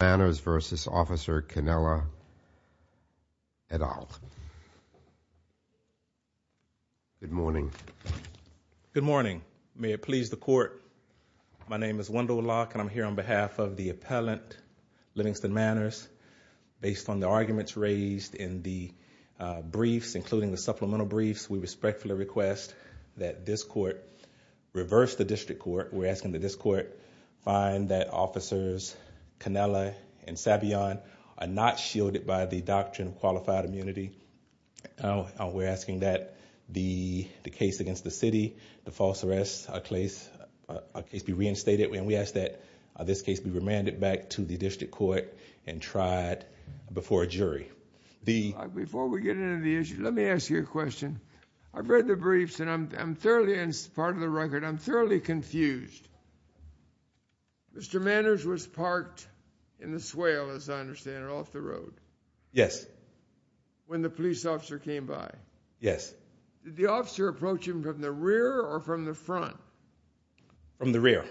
Manners v. Officer Cannella et al. Good morning. Good morning. May it please the court, my name is Wendell Locke and I'm here on behalf of the appellant Livingston Manners. Based on the arguments raised in the briefs, including the supplemental briefs, we respectfully request that this court reverse the district court. We're asking that officers Cannella and Savion are not shielded by the doctrine of qualified immunity. We're asking that the case against the city, the false arrest case, be reinstated and we ask that this case be remanded back to the district court and tried before a jury. Before we get into the issue, let me ask you a question. I've read the briefs and I'm thoroughly, as part of the record, I'm Mr. Manners was parked in the swale, as I understand it, off the road. Yes. When the police officer came by. Yes. Did the officer approach him from the rear or from the front? From the rear.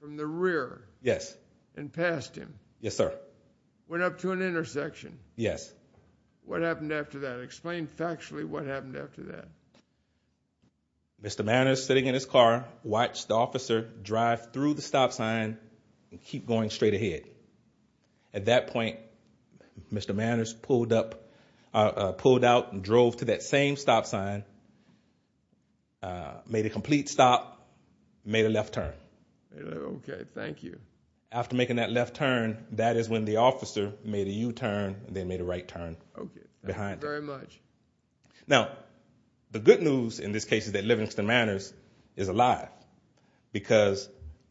From the rear? Yes. And passed him? Yes, sir. Went up to an intersection? Yes. What happened after that? Explain factually what happened after that. Mr. Manners sitting in his car, watched the officer drive through the stop sign and keep going straight ahead. At that point, Mr. Manners pulled up, pulled out and drove to that same stop sign, made a complete stop, made a left turn. Okay, thank you. After making that left turn, that is when the officer made a U-turn, then made a right turn. Okay. Very much. Now, the good news in this case for Mr. Manners is a lie, because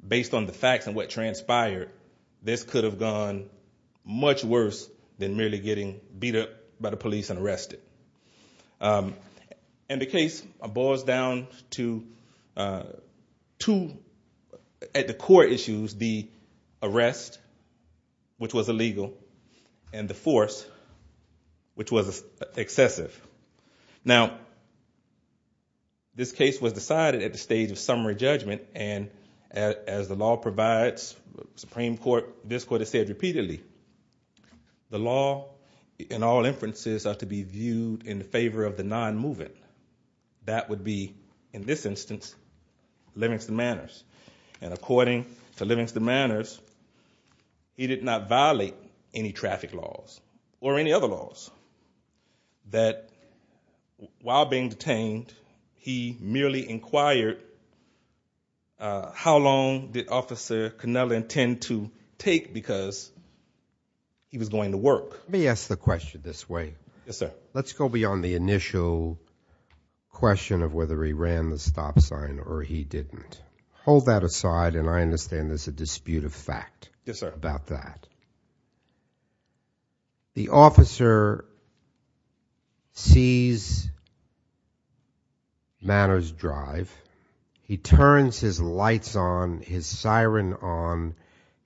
based on the facts and what transpired, this could have gone much worse than merely getting beat up by the police and arrested. And the case boils down to two, at the core issues, the arrest, which was decided at the stage of summary judgment, and as the law provides, the Supreme Court, this court has said repeatedly, the law in all inferences are to be viewed in the favor of the non-moving. That would be, in this instance, Livingston Manners. And according to Livingston Manners, he did not violate any traffic laws or any other laws, that while being detained, he merely inquired how long did Officer Cannella intend to take, because he was going to work. Let me ask the question this way. Yes, sir. Let's go beyond the initial question of whether he ran the stop sign or he didn't. Hold that aside, and I understand there's a dispute of fact about that. The officer sees Manners drive. He turns his lights on, his siren on,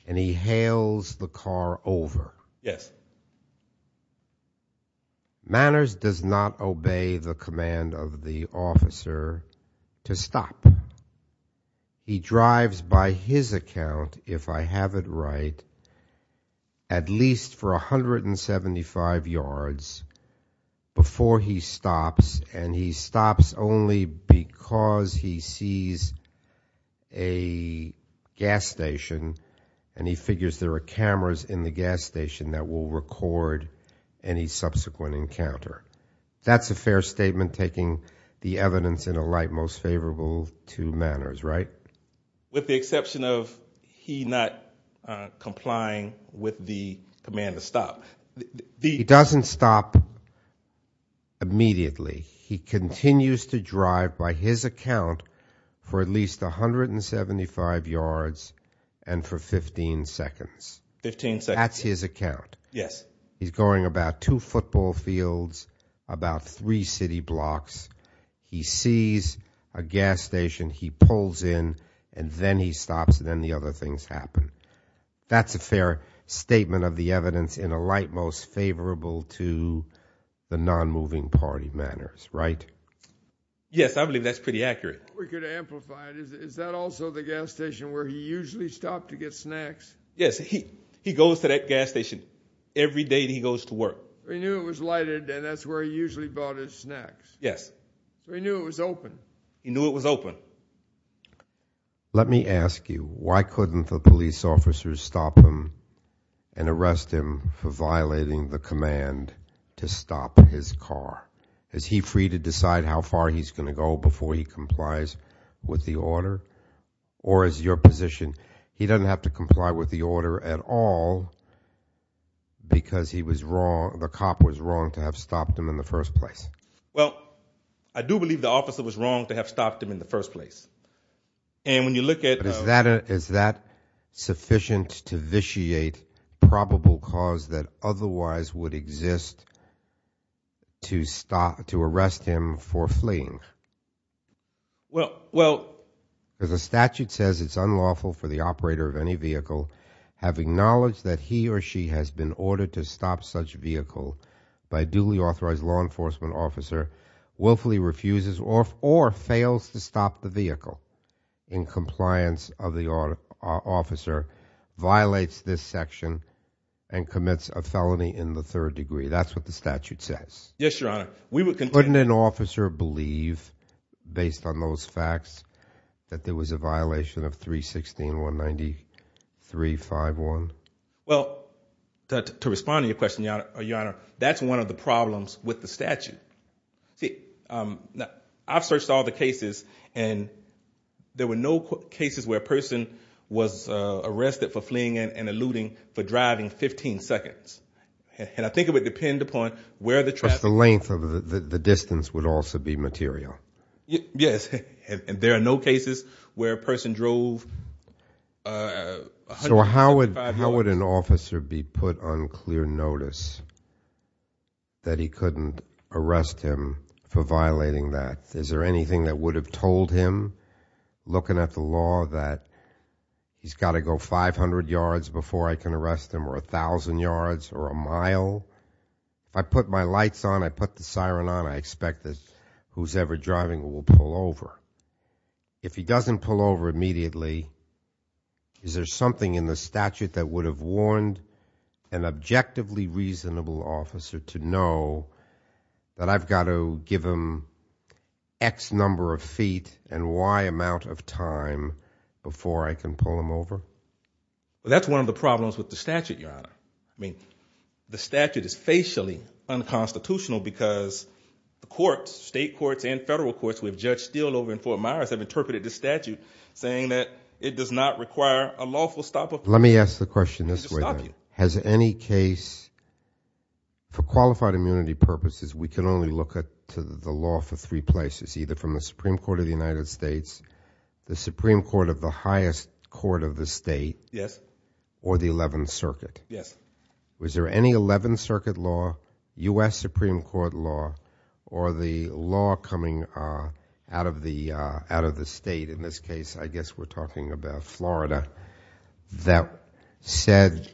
and he hails the car over. Manners does not obey the command of the officer to stop. He at least for 175 yards before he stops, and he stops only because he sees a gas station, and he figures there are cameras in the gas station that will record any subsequent encounter. That's a fair statement, taking the evidence in a light the command to stop. He doesn't stop immediately. He continues to drive by his account for at least 175 yards and for 15 seconds. 15 seconds. That's his account. Yes. He's going about two football fields, about three city blocks. He sees a gas station. He pulls in, and then he stops, and then the other things happen. That's a fair statement of the evidence in a light most favorable to the non-moving party Manners, right? Yes, I believe that's pretty accurate. We could amplify it. Is that also the gas station where he usually stopped to get snacks? Yes. He goes to that gas station every day that he goes to work. He knew it was lighted, and that's where he usually bought his snacks. Yes. He knew it was open. He knew it was open. Let me ask you, why couldn't the police officers stop him and arrest him for violating the command to stop his car? Is he free to decide how far he's going to go before he complies with the order? Or is your position, he doesn't have to comply with the order at all because the cop was wrong to have stopped him in the first place? I do believe the officer was wrong to have stopped him in the first place. Is that sufficient to vitiate probable cause that otherwise would exist to arrest him for fleeing? As the statute says, it's unlawful for the operator of any vehicle having knowledge that he or she has been ordered to stop such a vehicle by a duly authorized law enforcement officer, willfully refuses or fails to stop the vehicle in compliance of the officer, violates this section, and commits a felony in the third degree. That's what the statute says. Yes, Your Honor. Wouldn't an officer believe, based on those facts, that there was a violation of 316.193.5.1? Well, to respond to your question, Your Honor, that's one of the problems with the statute. See, I've searched all the cases and there were no cases where a person was arrested for fleeing and eluding for driving 15 seconds. And I think it would depend upon where the traffic... The length of the distance would also be material. Yes. And there are no cases where a person drove... So how would an officer be put on clear notice that he couldn't arrest him for violating that? Is there anything that would have told him, looking at the law, that he's got to go 500 yards before I can arrest him, or 1,000 yards, or a mile? If I put my lights on, I put the siren on, I expect that whoever's driving will pull over. If he doesn't pull over immediately, is there something in the statute that would have warned an objectively reasonable officer to know that I've got to give him X number of feet and Y amount of time before I can pull him over? That's one of the problems with the statute, Your Honor. I mean, the statute is facially unconstitutional because the courts, state courts and federal courts, with Judge Steele over in Fort Myers have interpreted the statute saying that it does not require a lawful stop of... Let me ask the question this way then. Has any case... For qualified immunity purposes, we can only look at the law for three places, either from the Supreme Court of the United States, the Supreme Court of the highest court of the state, or the 11th Circuit. Was there any 11th Circuit law, U.S. Supreme Court law, or the law coming out of the state, in this case, I guess we're talking about Florida, that said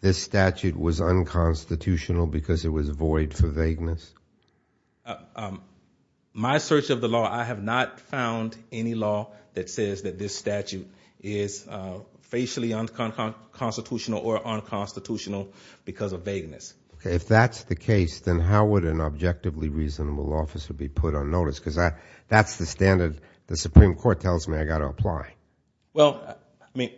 this statute was unconstitutional because it was void for vagueness? My search of the law, I have not found any law that says that this statute is facially unconstitutional or unconstitutional because of vagueness. Okay. If that's the case, then how would an objectively reasonable officer be put on notice? Because that's the standard the Supreme Court tells me I've got to apply. Well, I mean,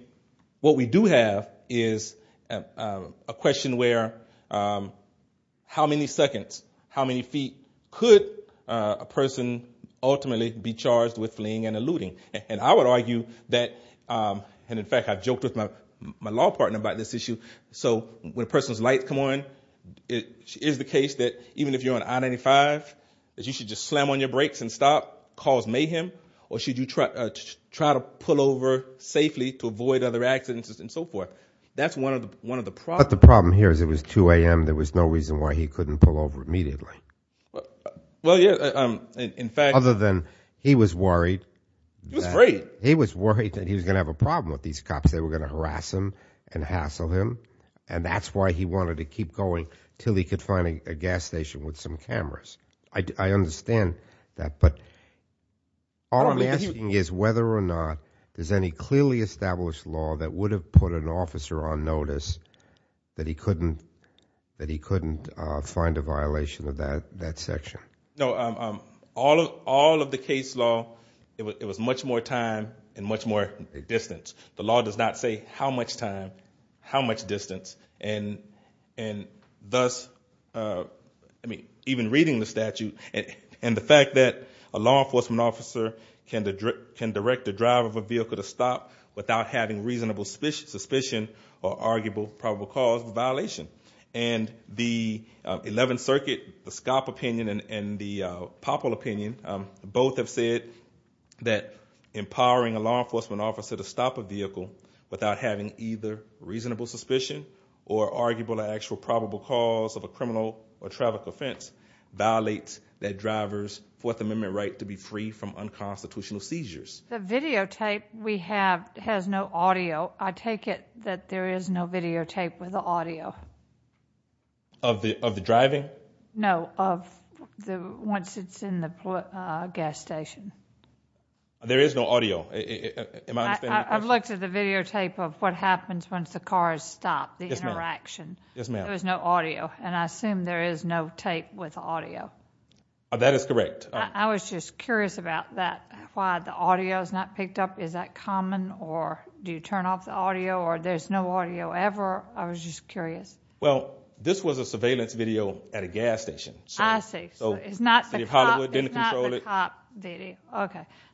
what we do have is a question where how many seconds, how many feet could a person ultimately be charged with fleeing and eluding? And I would argue that. And in fact, I've joked with my law partner about this issue. So when a person's lights come on, it is the case that even if you're on I-95, that you should just slam on your brakes and stop, cause mayhem, or should you try to pull over safely to avoid other accidents and so forth. That's one of the problems. But the problem here is it was 2 a.m. There was no reason why he couldn't pull over immediately. Well, yeah, in fact. Other than he was worried. He was worried that he was going to have a problem with these cops. They were going to harass him and hassle him, and that's why he wanted to keep going until he could find a gas station with some cameras. I understand that, but all I'm asking is whether or not there's any clearly established law that would have put an officer on notice that he couldn't find a violation of that section. No, all of the case law, it was much more time and much more distance. The law does not say how much time, how much distance. And thus, even reading the statute, and the fact that a law enforcement officer can direct the drive of a vehicle to stop without having reasonable suspicion or arguable probable cause of violation. And the 11th Circuit, the SCOP opinion and the POPL opinion, both have said that empowering a law enforcement officer to stop a vehicle, without having either reasonable suspicion or arguable actual probable cause of a criminal or traffic offense, violates that driver's Fourth Amendment right to be free from unconstitutional seizures. The videotape we have has no audio. I take it that there is no videotape with audio. Of the driving? No, of once it's in the gas station. There is no audio. I've looked at the videotape of what happens once the car is stopped, the interaction. Yes, ma'am. There is no audio, and I assume there is no tape with audio. That is correct. I was just curious about that, why the audio is not picked up. Is that common, or do you turn off the audio, or there's no audio ever? I was just curious. Well, this was a surveillance video at a gas station. I see.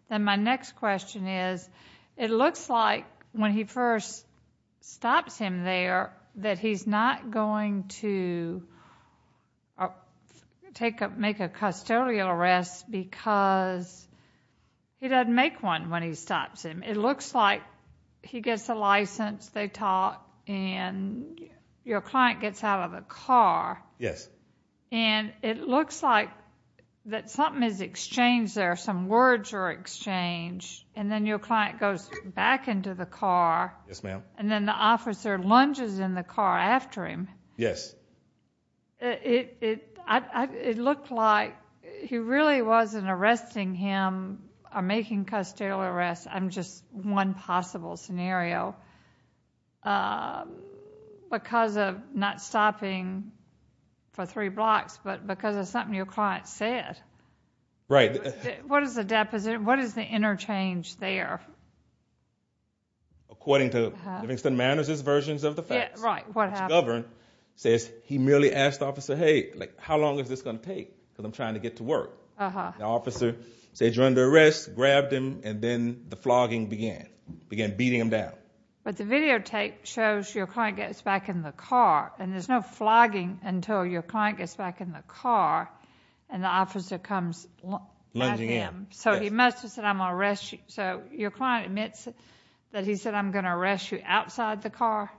Then my next question is, it looks like when he first stops him there, that he's not going to make a custodial arrest because he doesn't make one when he stops him. It looks like he gets a license, they talk, and your client gets out of a car. Yes. And it looks like that something is exchanged there, some words are exchanged, and then your client goes back into the car. Yes, ma'am. And then the officer lunges in the car after him. Yes. It looks like he really wasn't arresting him or making a custodial arrest, and just one possible scenario, because of not stopping for three blocks, but because of something your client said. Right. What is the interchange there? According to Livingston Manors' versions of the facts, what's governed says he merely asked the officer, hey, how long is this going to take because I'm trying to get to work? The officer says you're under arrest, grabbed him, and then the flogging began, began beating him down. But the videotape shows your client gets back in the car, and there's no flogging until your client gets back in the car and the officer comes at him. So he must have said, I'm going to arrest you. So your client admits that he said, I'm going to arrest you outside the car?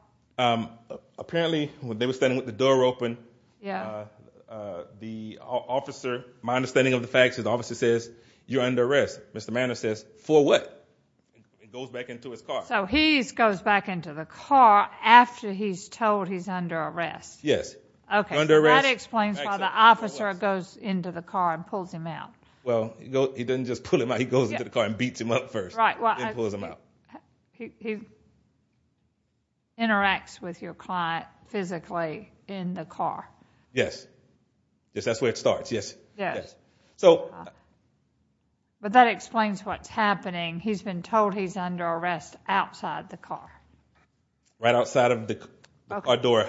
Apparently, when they were standing with the door open, the officer, my understanding of the facts is the officer says, you're under arrest. Mr. Manor says, for what? He goes back into his car. So he goes back into the car after he's told he's under arrest. Yes. That explains why the officer goes into the car and pulls him out. Well, he doesn't just pull him out, he goes into the car and beats him up first. He interacts with your client physically in the car. Yes. That's where it starts, yes. But that explains what's happening. He's been told he's under arrest outside the car. Right outside of the car door.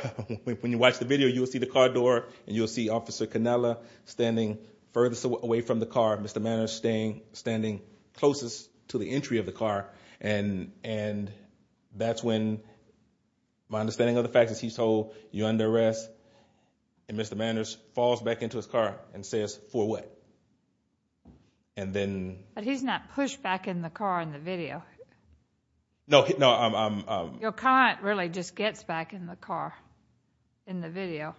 When you watch the video, you'll see the car door and you'll see Officer Canella standing furthest away from the car. Mr. Manor is standing closest to the entry of the car. And that's when my understanding of the facts is he's told, you're under arrest. And Mr. Manor falls back into his car and says, for what? But he's not pushed back in the car in the video. No. Your client really just gets back in the car in the video.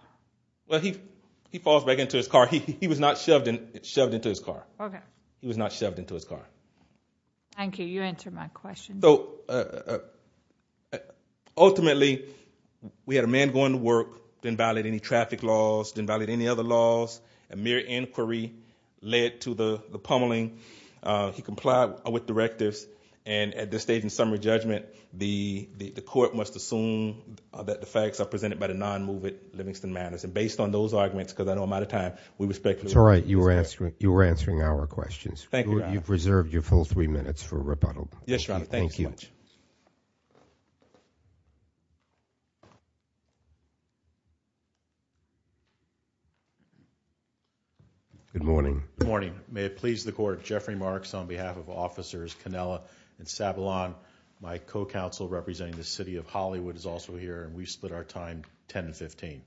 Well, he falls back into his car. He was not shoved into his car. Okay. He was not shoved into his car. Thank you. You answered my question. Ultimately, we had a man going to work, didn't violate any traffic laws, didn't violate any other laws. A mere inquiry led to the pummeling. He complied with directives. And at this stage in summary judgment, the court must assume that the facts are presented by the non-movement of Mr. Manor. And based on those arguments, because I know I'm out of time, we respectfully— That's all right. You were answering our questions. Thank you, Your Honor. You've reserved your full three minutes for rebuttal. Yes, Your Honor. Thank you. Good morning. Good morning. May it please the Court, Jeffrey Marks on behalf of Officers Cannella and Savillon. My co-counsel representing the City of Hollywood is also here, and we split our time 10 and 15.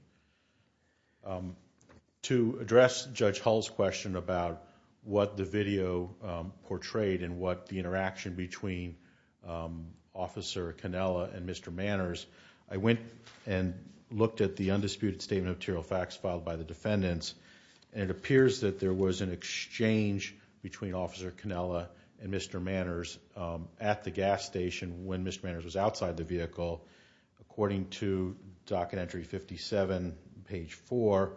To address Judge Hull's question about what the video portrayed and what the interaction between Officer Cannella and Mr. Manors, I went and looked at the undisputed statement of material facts filed by the defendants, and it appears that there was an exchange between Officer Cannella and Mr. Manors at the gas station when Mr. Manors was outside the vehicle. According to Docket Entry 57, page 4,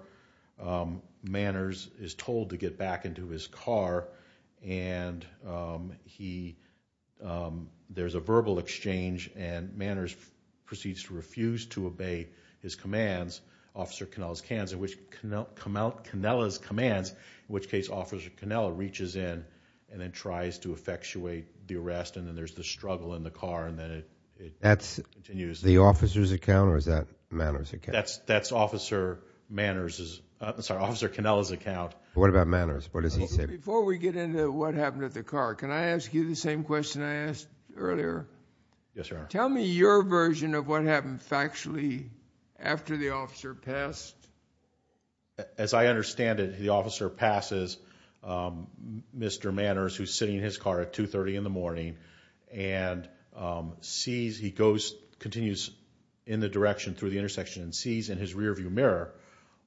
Manors is told to get back into his car, and there's a verbal exchange, and Manors proceeds to refuse to obey his commands, Officer Cannella's commands, in which case Officer Cannella reaches in and then tries to effectuate the arrest, and then there's the struggle in the car, and then it continues. That's the officer's account, or is that Manors' account? That's Officer Cannella's account. What about Manors? What does he say? Before we get into what happened at the car, can I ask you the same question I asked earlier? Yes, Your Honor. Tell me your version of what happened factually after the officer passed. As I understand it, the officer passes Mr. Manors, who's sitting in his car at 2.30 in the morning, and sees he goes, continues in the direction through the intersection, and sees in his rearview mirror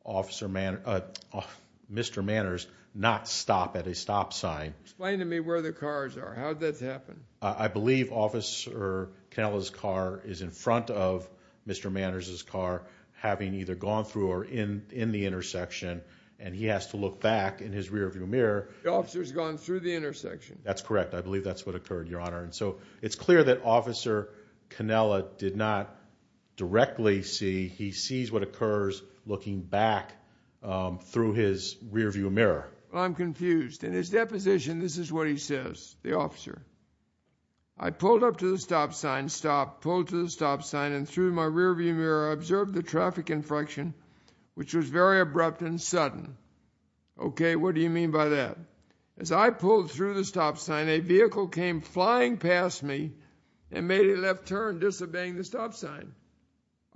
Mr. Manors not stop at a stop sign. Explain to me where the cars are. How did that happen? I believe Officer Cannella's car is in front of Mr. Manors' car, having either gone through or in the intersection, and he has to look back in his rearview mirror. The officer's gone through the intersection. That's correct. I believe that's what occurred, Your Honor. And so it's clear that Officer Cannella did not directly see. He sees what occurs looking back through his rearview mirror. I'm confused. In his deposition, this is what he says, the officer. I pulled up to the stop sign, stopped, pulled to the stop sign, and through my rearview mirror observed the traffic infraction, which was very abrupt and sudden. Okay, what do you mean by that? As I pulled through the stop sign, a vehicle came flying past me and made a left turn, disobeying the stop sign.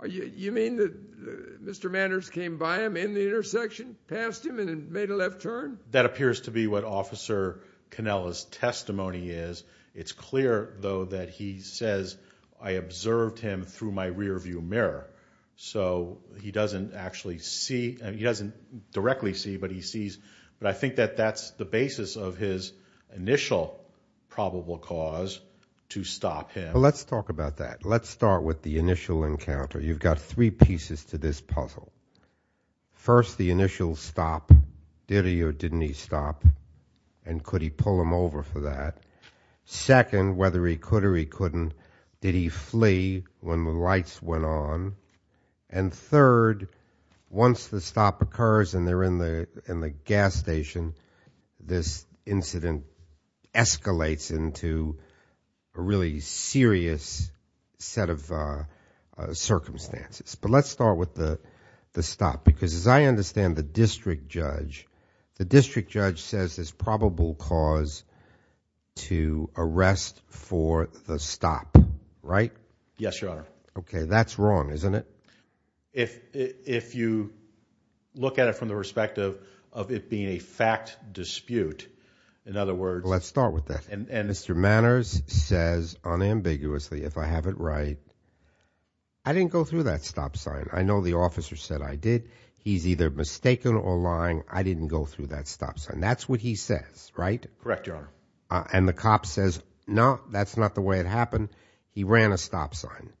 You mean that Mr. Manors came by him in the intersection, passed him, and made a left turn? That appears to be what Officer Cannella's testimony is. It's clear, though, that he says, I observed him through my rearview mirror. So he doesn't actually see. He doesn't directly see, but he sees. But I think that that's the basis of his initial probable cause to stop him. So let's talk about that. Let's start with the initial encounter. You've got three pieces to this puzzle. First, the initial stop, did he or didn't he stop, and could he pull him over for that? Second, whether he could or he couldn't, did he flee when the lights went on? And third, once the stop occurs and they're in the gas station, this incident escalates into a really serious set of circumstances. But let's start with the stop, because as I understand the district judge, the district judge says there's probable cause to arrest for the stop, right? Yes, Your Honor. Okay, that's wrong, isn't it? If you look at it from the perspective of it being a fact dispute, in other words. Let's start with that. And Mr. Manners says unambiguously, if I have it right, I didn't go through that stop sign. I know the officer said I did. He's either mistaken or lying. I didn't go through that stop sign. That's what he says, right? Correct, Your Honor. And the cop says, no, that's not the way it happened. He ran a stop sign.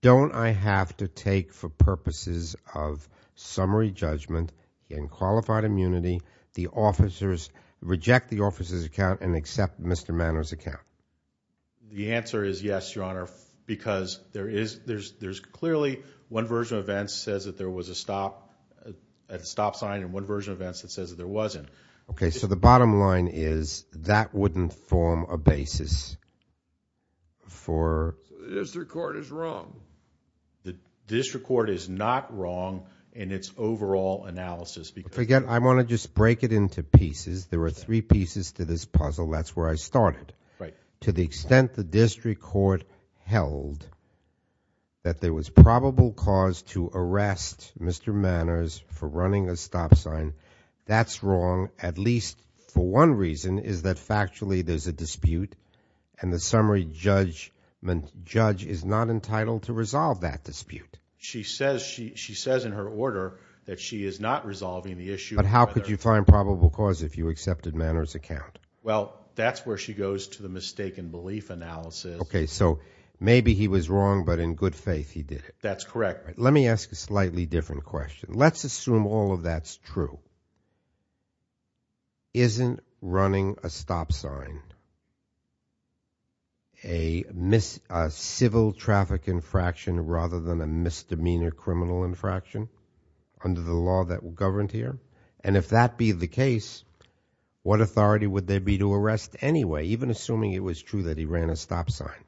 Don't I have to take for purposes of summary judgment in qualified immunity, the officers reject the officer's account and accept Mr. Manners' account? The answer is yes, Your Honor, because there's clearly one version of events that says that there was a stop sign and one version of events that says there wasn't. Okay, so the bottom line is that wouldn't form a basis for... The district court is wrong. The district court is not wrong in its overall analysis. Again, I want to just break it into pieces. There are three pieces to this puzzle. That's where I started. Right. To the extent the district court held that there was probable cause to arrest Mr. Manners for running a stop sign, that's wrong at least for one reason, is that factually there's a dispute and the summary judge is not entitled to resolve that dispute. She says in her order that she is not resolving the issue. But how could you find probable cause if you accepted Manners' account? Well, that's where she goes to the mistaken belief analysis. Okay, so maybe he was wrong, but in good faith he did it. That's correct. Let me ask a slightly different question. Let's assume all of that's true. Isn't running a stop sign a civil traffic infraction rather than a misdemeanor criminal infraction under the law that governs here? And if that be the case, what authority would there be to arrest anyway, even assuming it was true that he ran a stop sign?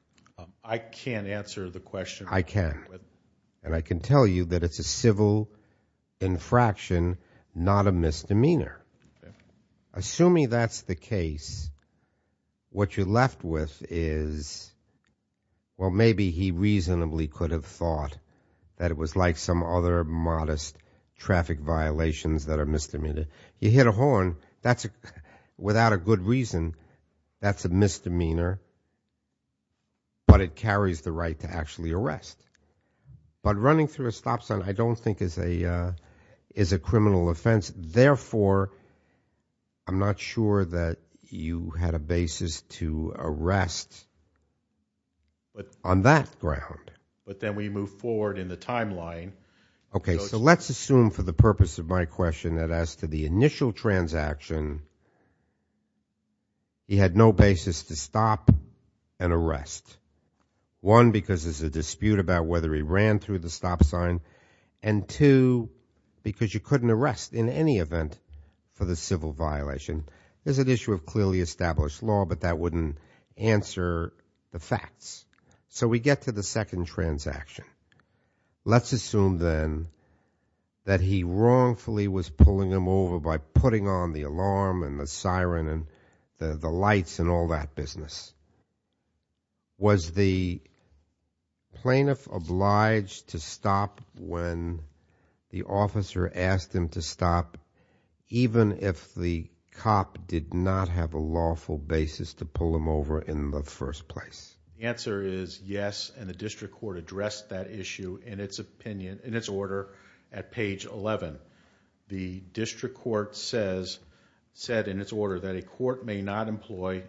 I can't answer the question. I can. And I can tell you that it's a civil infraction, not a misdemeanor. Assuming that's the case, what you're left with is, well, maybe he reasonably could have thought that it was like some other modest traffic violations that are misdemeanors. You hit a horn, without a good reason, that's a misdemeanor, but it carries the right to actually arrest. But running through a stop sign I don't think is a criminal offense. Therefore, I'm not sure that you had a basis to arrest on that ground. But then we move forward in the timeline. Okay, so let's assume for the purpose of my question that as to the initial transaction, he had no basis to stop and arrest. One, because there's a dispute about whether he ran through the stop sign, and two, because you couldn't arrest in any event for the civil violation. There's an issue of clearly established law, but that wouldn't answer the facts. So we get to the second transaction. Let's assume then that he wrongfully was pulling him over by putting on the alarm and the siren and the lights and all that business. Was the plaintiff obliged to stop when the officer asked him to stop, even if the cop did not have a lawful basis to pull him over in the first place? The answer is yes, and the district court addressed that issue in its order at page 11. The district court said in its order that a court may not employ,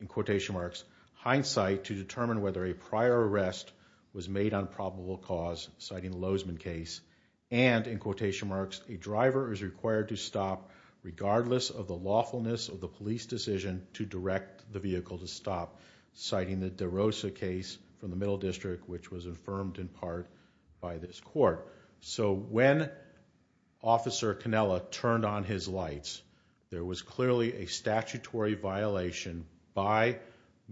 in quotation marks, hindsight to determine whether a prior arrest was made on probable cause, citing the Lozman case, and, in quotation marks, a driver is required to stop regardless of the lawfulness of the police decision to direct the vehicle to stop, citing the DeRosa case from the Middle District, which was affirmed in part by this court. So when Officer Cannella turned on his lights, there was clearly a statutory violation by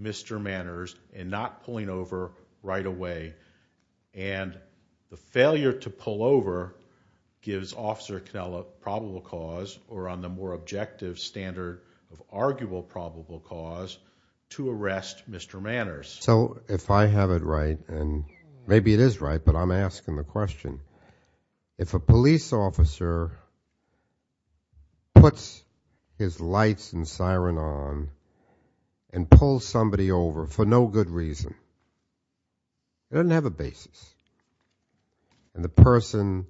Mr. Manners in not pulling over right away, and the failure to pull over gives Officer Cannella probable cause, or on the more objective standard of arguable probable cause, to arrest Mr. Manners. So if I have it right, and maybe it is right, but I'm asking the question, if a police officer puts his lights and siren on and pulls somebody over for no good reason, it doesn't have a basis, and the person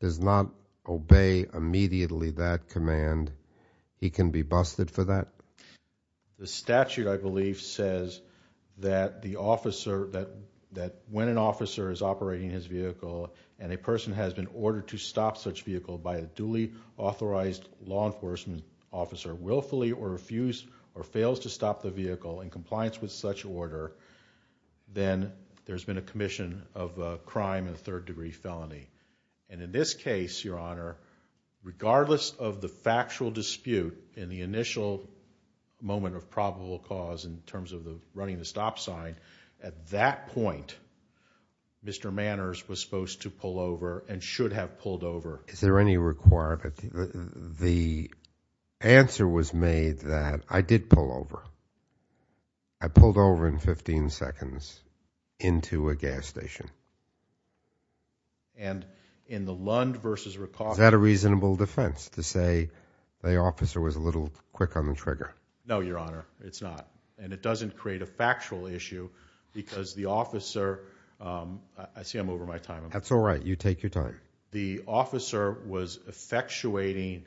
does not obey immediately that command, he can be busted for that? The statute, I believe, says that when an officer is operating his vehicle and a person has been ordered to stop such vehicle by a duly authorized law enforcement officer and willfully or refused or fails to stop the vehicle in compliance with such order, then there's been a commission of a crime and a third degree felony. And in this case, Your Honor, regardless of the factual dispute and the initial moment of probable cause in terms of running the stop sign, at that point, Mr. Manners was supposed to pull over and should have pulled over. Is there any requirement? The answer was made that I did pull over. I pulled over in 15 seconds into a gas station. And in the Lund v. Rickoff? Is that a reasonable defense to say the officer was a little quick on the trigger? No, Your Honor, it's not. And it doesn't create a factual issue because the officer, I see I'm over my time. That's all right. You take your time. The officer was effectuating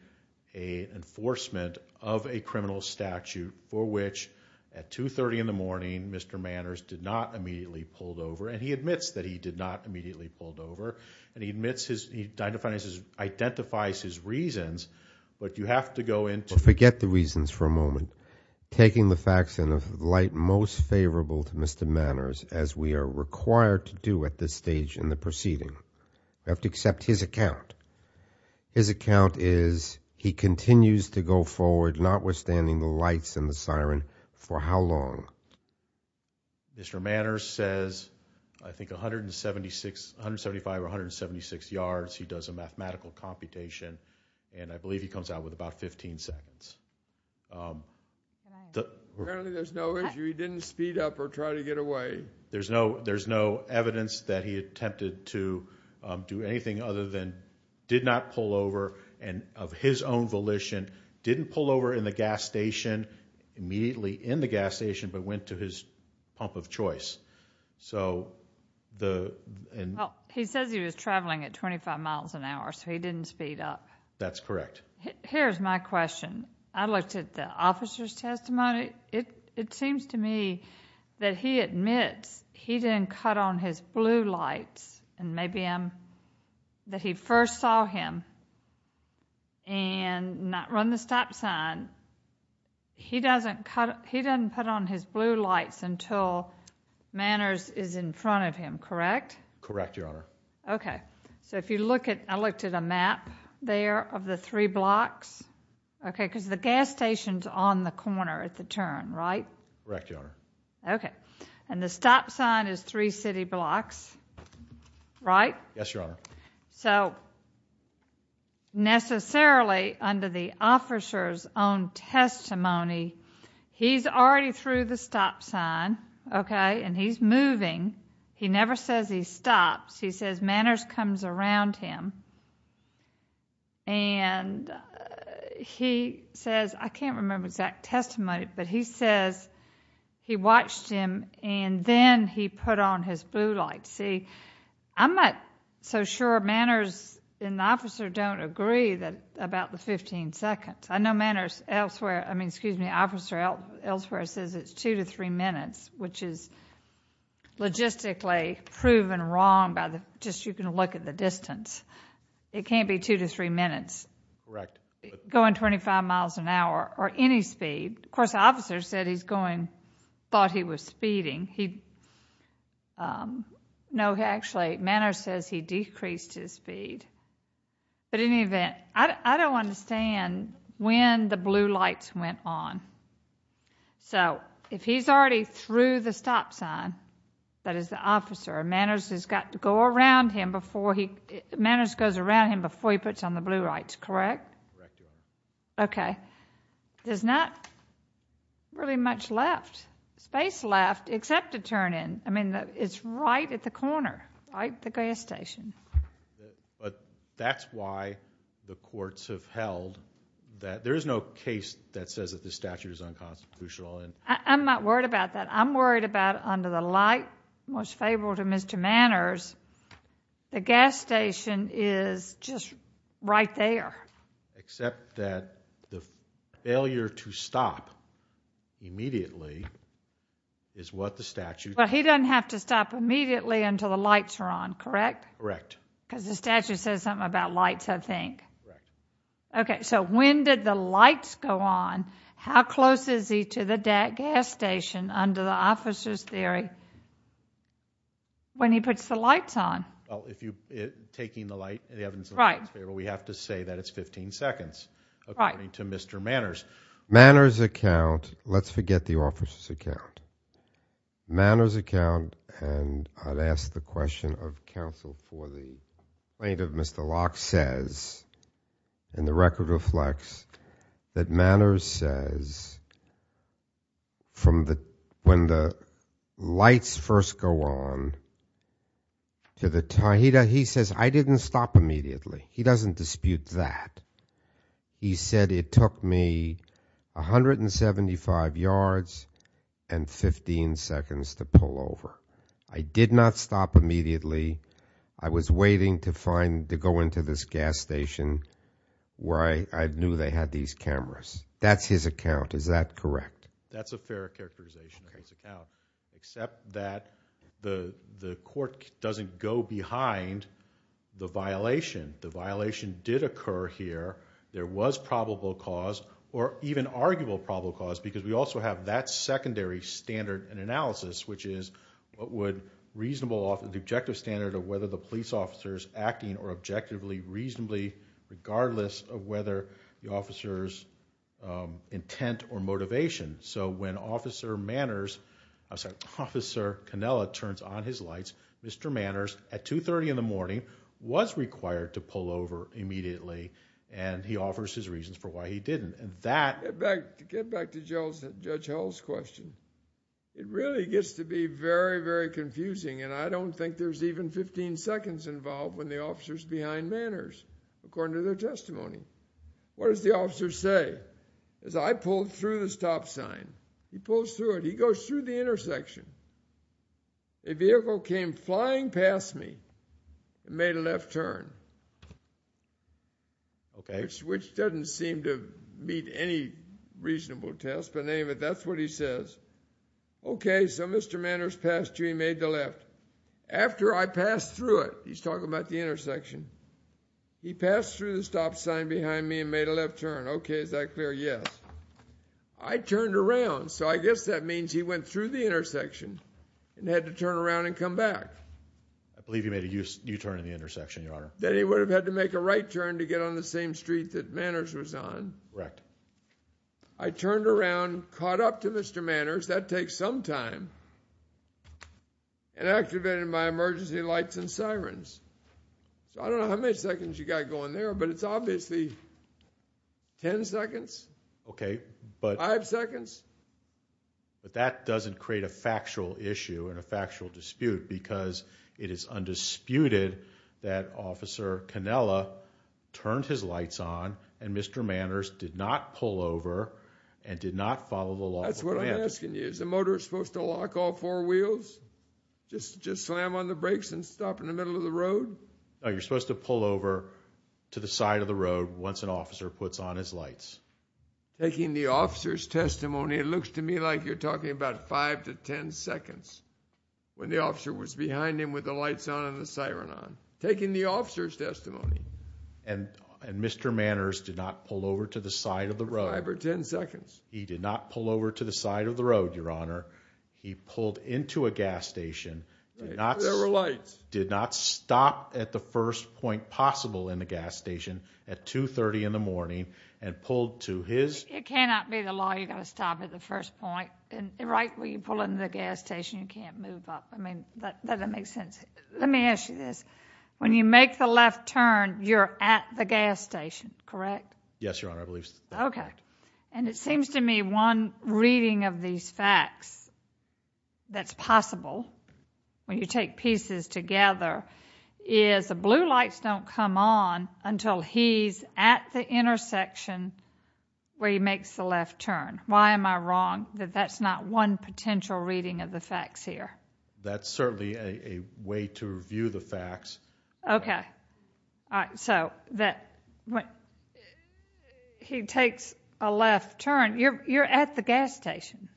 an enforcement of a criminal statute for which at 2.30 in the morning Mr. Manners did not immediately pull over. And he admits that he did not immediately pull over. And he admits his, he identifies his reasons, but you have to go into Forget the reasons for a moment. Taking the facts in the light most favorable to Mr. Manners as we are required to do at this stage in the proceeding. You have to accept his account. His account is he continues to go forward notwithstanding the lights and the siren for how long? Mr. Manners says I think 175 or 176 yards. He does a mathematical computation. And I believe he comes out with about 15 seconds. Apparently there's no issue. He didn't speed up or try to get away. There's no evidence that he attempted to do anything other than did not pull over and of his own volition didn't pull over in the gas station, immediately in the gas station, but went to his pump of choice. He says he was traveling at 25 miles an hour so he didn't speed up. That's correct. Here's my question. I looked at the officer's testimony. It seems to me that he admits he didn't cut on his blue lights and maybe that he first saw him and not run the stop sign. He doesn't put on his blue lights until Manners is in front of him, correct? Correct, Your Honor. Okay. So if you look at, I looked at a map there of the three blocks. Okay, because the gas station's on the corner at the turn, right? Correct, Your Honor. Okay. And the stop sign is three city blocks, right? Yes, Your Honor. So necessarily under the officer's own testimony, he's already through the stop sign, okay, and he's moving. He never says he stops. He says Manners comes around him and he says, I can't remember the exact testimony, but he says he watched him and then he put on his blue lights. See, I'm not so sure Manners and the officer don't agree about the 15 seconds. I know Manners elsewhere, I mean, excuse me, the officer elsewhere says it's two to three minutes, which is logistically proven wrong by just you can look at the distance. It can't be two to three minutes. Correct. Going 25 miles an hour or any speed. Of course, the officer said he's going, thought he was speeding. No, actually, Manners says he decreased his speed. But in any event, I don't understand when the blue lights went on. So if he's already through the stop sign, that is the officer, Manners has got to go around him before he, Manners goes around him before he puts on the blue lights, correct? Correct. Okay. There's not really much left, space left except to turn in. I mean, it's right at the corner, right at the gas station. But that's why the courts have held that there is no case that says that the statute is unconstitutional. I'm not worried about that. I'm worried about under the light most favorable to Mr. Manners, the gas station is just right there. Except that the failure to stop immediately is what the statute. But he doesn't have to stop immediately until the lights are on, correct? Correct. Because the statute says something about lights, I think. Correct. Okay. So when did the lights go on? How close is he to the gas station under the officer's theory when he puts the lights on? Well, if you're taking the light, we have to say that it's 15 seconds. Right. According to Mr. Manners. Manners' account, let's forget the officer's account. Manners' account, and I've asked the question of counsel for the plaintiff, Mr. Locke says, and the record reflects that Manners says, from when the lights first go on to the time, he says, I didn't stop immediately. He doesn't dispute that. He said it took me 175 yards and 15 seconds to pull over. I did not stop immediately. I was waiting to go into this gas station where I knew they had these cameras. That's his account. Is that correct? That's a fair characterization of his account, except that the court doesn't go behind the violation. The violation did occur here. There was probable cause, or even arguable probable cause, because we also have that secondary standard and analysis, which is what would reasonable, the objective standard of whether the police officer is acting or objectively, reasonably, regardless of whether the officer's intent or motivation. So when Officer Manners, I'm sorry, Officer Cannella turns on his lights, Mr. Manners, at 2.30 in the morning, was required to pull over immediately, and he offers his reasons for why he didn't. Get back to Judge Howell's question. It really gets to be very, very confusing, and I don't think there's even 15 seconds involved when the officer's behind Manners, according to their testimony. What does the officer say? I pulled through the stop sign. He pulls through it. He goes through the intersection. A vehicle came flying past me and made a left turn, which doesn't seem to meet any reasonable test, but anyway, that's what he says. Okay, so Mr. Manners passed through, he made the left. After I passed through it, he's talking about the intersection, he passed through the stop sign behind me and made a left turn. Okay, is that clear? Yes. I turned around, so I guess that means he went through the intersection and had to turn around and come back. I believe he made a U-turn in the intersection, Your Honor. Then he would have had to make a right turn to get on the same street that Manners was on. Correct. I turned around, caught up to Mr. Manners, that takes some time, and activated my emergency lights and sirens. I don't know how many seconds you got going there, but it's obviously 10 seconds? Okay. Five seconds? But that doesn't create a factual issue and a factual dispute because it is undisputed that Officer Cannella turned his lights on and Mr. Manners did not pull over and did not follow the law. That's what I'm asking you. Is the motor supposed to lock all four wheels? Just slam on the brakes and stop in the middle of the road? No, you're supposed to pull over to the side of the road once an officer puts on his lights. Taking the officer's testimony, it looks to me like you're talking about five to 10 seconds when the officer was behind him with the lights on and the siren on. Taking the officer's testimony. And Mr. Manners did not pull over to the side of the road. Five or 10 seconds. He did not pull over to the side of the road, Your Honor. He pulled into a gas station, did not stop at the first point possible in the gas station at 2.30 in the morning and pulled to his... It cannot be the law you've got to stop at the first point. Right when you pull into the gas station, you can't move up. I mean, that doesn't make sense. Let me ask you this. When you make the left turn, you're at the gas station, correct? Yes, Your Honor, I believe so. Okay. And it seems to me one reading of these facts that's possible when you take pieces together is the blue lights don't come on until he's at the intersection where he makes the left turn. Why am I wrong that that's not one potential reading of the facts here? That's certainly a way to review the facts. Okay. So that when he takes a left turn, you're at the gas station.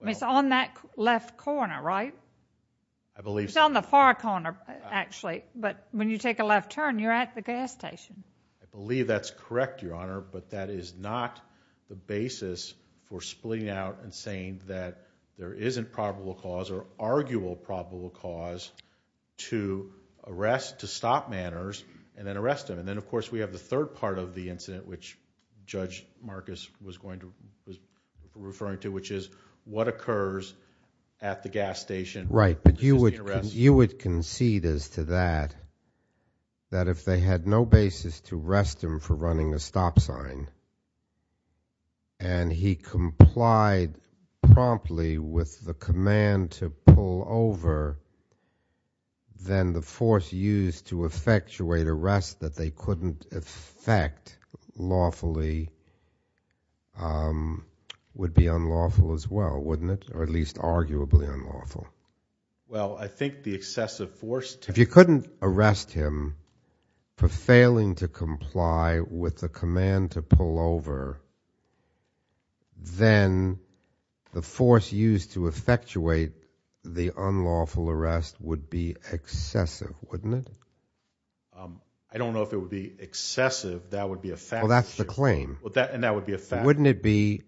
It's on that left corner, right? I believe so. It's on the far corner, actually. But when you take a left turn, you're at the gas station. I believe that's correct, Your Honor. But that is not the basis for splitting out and saying that there isn't probable cause or arguable probable cause to arrest, to stop Manners and then arrest him. And then, of course, we have the third part of the incident, which Judge Marcus was referring to, which is what occurs at the gas station. Right. But you would concede as to that, that if they had no basis to arrest him for running a stop sign and he complied promptly with the command to pull over, then the force used to effectuate arrest that they couldn't effect lawfully would be unlawful as well, wouldn't it? Or at least arguably unlawful. Well, I think the excessive force to... then the force used to effectuate the unlawful arrest would be excessive, wouldn't it? I don't know if it would be excessive. That would be a fact. Well, that's the claim. And that would be a fact. Wouldn't it be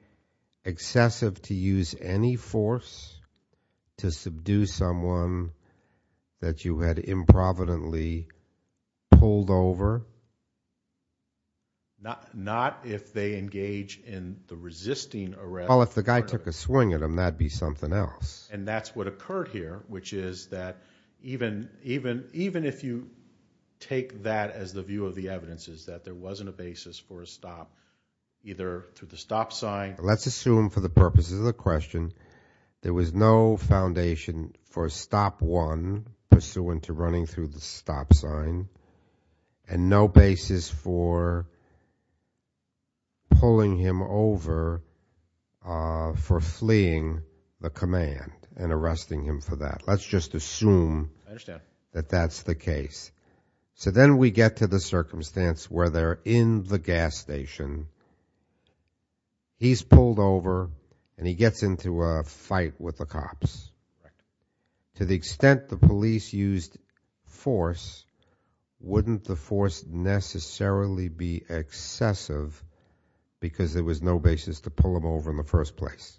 excessive to use any force to subdue someone that you had improvidently pulled over? Not if they engage in the resisting arrest. Well, if the guy took a swing at him, that'd be something else. And that's what occurred here, which is that even if you take that as the view of the evidence, is that there wasn't a basis for a stop, either through the stop sign... Let's assume, for the purposes of the question, there was no foundation for a stop one pursuant to running through the stop sign and no basis for pulling him over for fleeing the command and arresting him for that. Let's just assume that that's the case. So then we get to the circumstance where they're in the gas station. He's pulled over and he gets into a fight with the cops. To the extent the police used force, wouldn't the force necessarily be excessive because there was no basis to pull him over in the first place?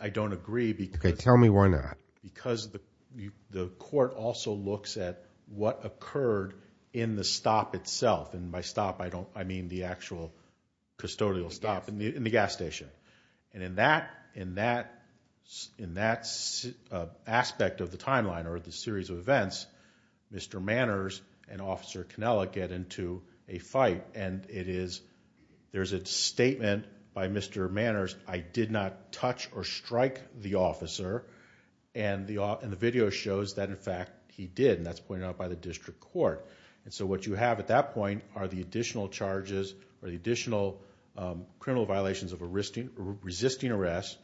I don't agree because... Okay, tell me why not. Because the court also looks at what occurred in the stop itself. And by stop, I mean the actual custodial stop in the gas station. And in that aspect of the timeline or the series of events, Mr. Manners and Officer Cannella get into a fight. And there's a statement by Mr. Manners, I did not touch or strike the officer. And the video shows that, in fact, he did. And that's pointed out by the district court. And so what you have at that point are the additional charges, the additional criminal violations of resisting arrest,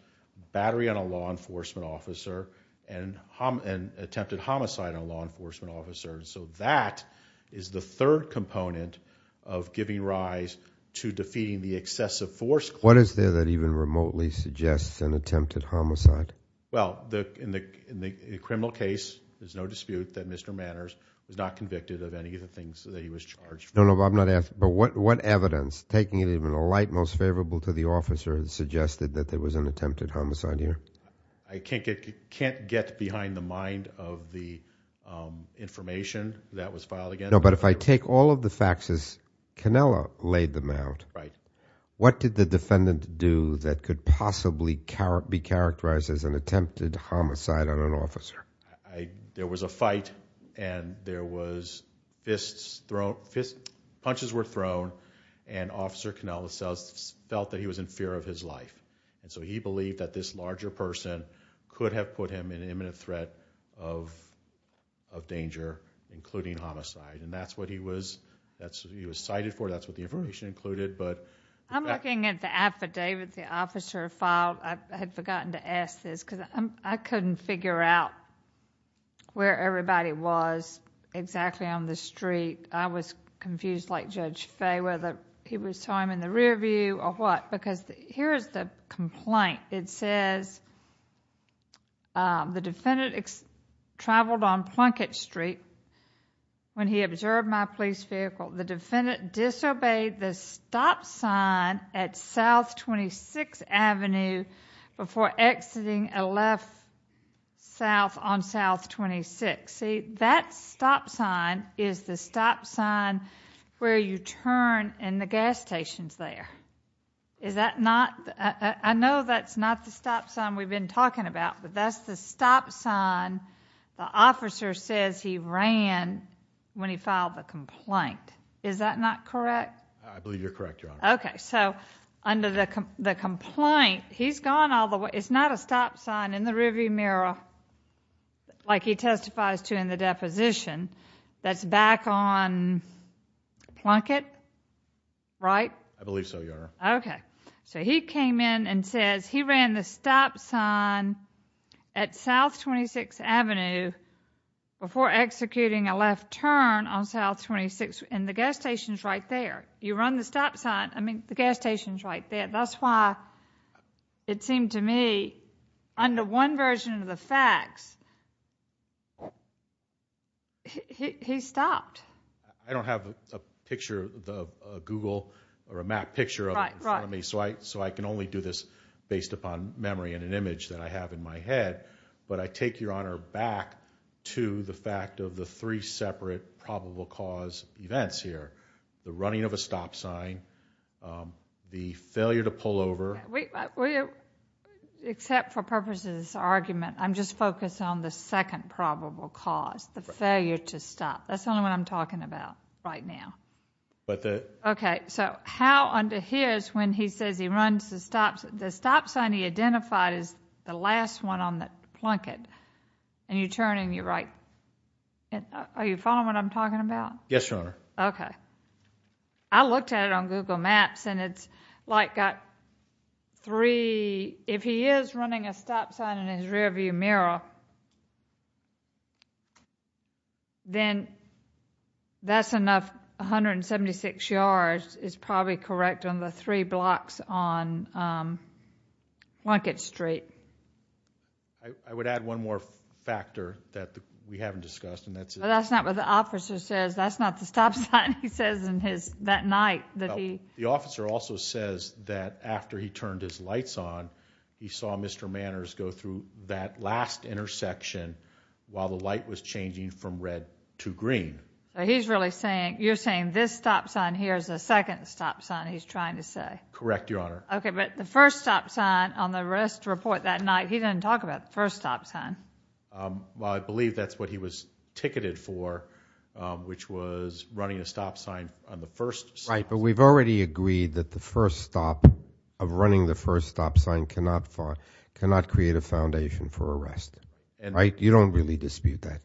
battery on a law enforcement officer, and attempted homicide on a law enforcement officer. So that is the third component of giving rise to defeating the excessive force. What is there that even remotely suggests an attempted homicide? Well, in the criminal case, there's no dispute that Mr. Manners was not convicted of any of the things that he was charged with. No, no, but I'm not asking, but what evidence, taking it even the light most favorable to the officer, suggested that there was an attempted homicide here? I can't get behind the mind of the information that was filed against him. No, but if I take all of the facts as Cannella laid them out, What did the defendant do that could possibly be characterized as an attempted homicide on an officer? There was a fight, and there was fists thrown, punches were thrown, and Officer Cannella felt that he was in fear of his life. And so he believed that this larger person could have put him in imminent threat of danger, including homicide. And that's what he was cited for, that's what the information included, but... I'm looking at the affidavit the officer filed. I had forgotten to ask this, because I couldn't figure out where everybody was exactly on the street. I was confused, like Judge Fay, whether he was time in the rear view or what. Because here is the complaint. It says, the defendant traveled on Plunkett Street when he observed my police vehicle. The defendant disobeyed the stop sign at South 26th Avenue before exiting a left south on South 26th. See, that stop sign is the stop sign where you turn in the gas stations there. I know that's not the stop sign we've been talking about, but that's the stop sign the officer says he ran when he filed the complaint. Is that not correct? I believe you're correct, Your Honor. Okay, so under the complaint, he's gone all the way. It's not a stop sign in the rear view mirror, like he testifies to in the deposition, that's back on Plunkett, right? I believe so, Your Honor. Okay. So he came in and says he ran the stop sign at South 26th Avenue before executing a left turn on South 26th, and the gas station's right there. You run the stop sign, I mean, the gas station's right there. That's why it seemed to me, under one version of the facts, he stopped. I don't have a picture, a Google or a map picture of it in front of me, so I can only do this based upon memory and an image that I have in my head. But I take your honor back to the fact of the three separate probable cause events here, the running of a stop sign, the failure to pull over. Except for purposes of this argument, I'm just focused on the second probable cause, the failure to stop. That's the only one I'm talking about right now. Okay, so how under his, when he says he runs the stop sign, the one he identified is the last one on the plunket. And you turn and you're right. Are you following what I'm talking about? Yes, Your Honor. Okay. I looked at it on Google Maps, and it's like that three, if he is running a stop sign in his rearview mirror, then that's enough 176 yards is probably correct on the three blocks on Plunkett Street. I would add one more factor that we haven't discussed. Well, that's not what the officer says. That's not the stop sign he says that night. The officer also says that after he turned his lights on, he saw Mr. Manners go through that last intersection while the light was changing from red to green. So he's really saying, you're saying this stop sign here is the second stop sign he's trying to say. Correct, Your Honor. Okay, but the first stop sign on the arrest report that night, he didn't talk about the first stop sign. Well, I believe that's what he was ticketed for, which was running a stop sign on the first stop. Right, but we've already agreed that the first stop, of running the first stop sign cannot create a foundation for arrest. Right? You don't really dispute that.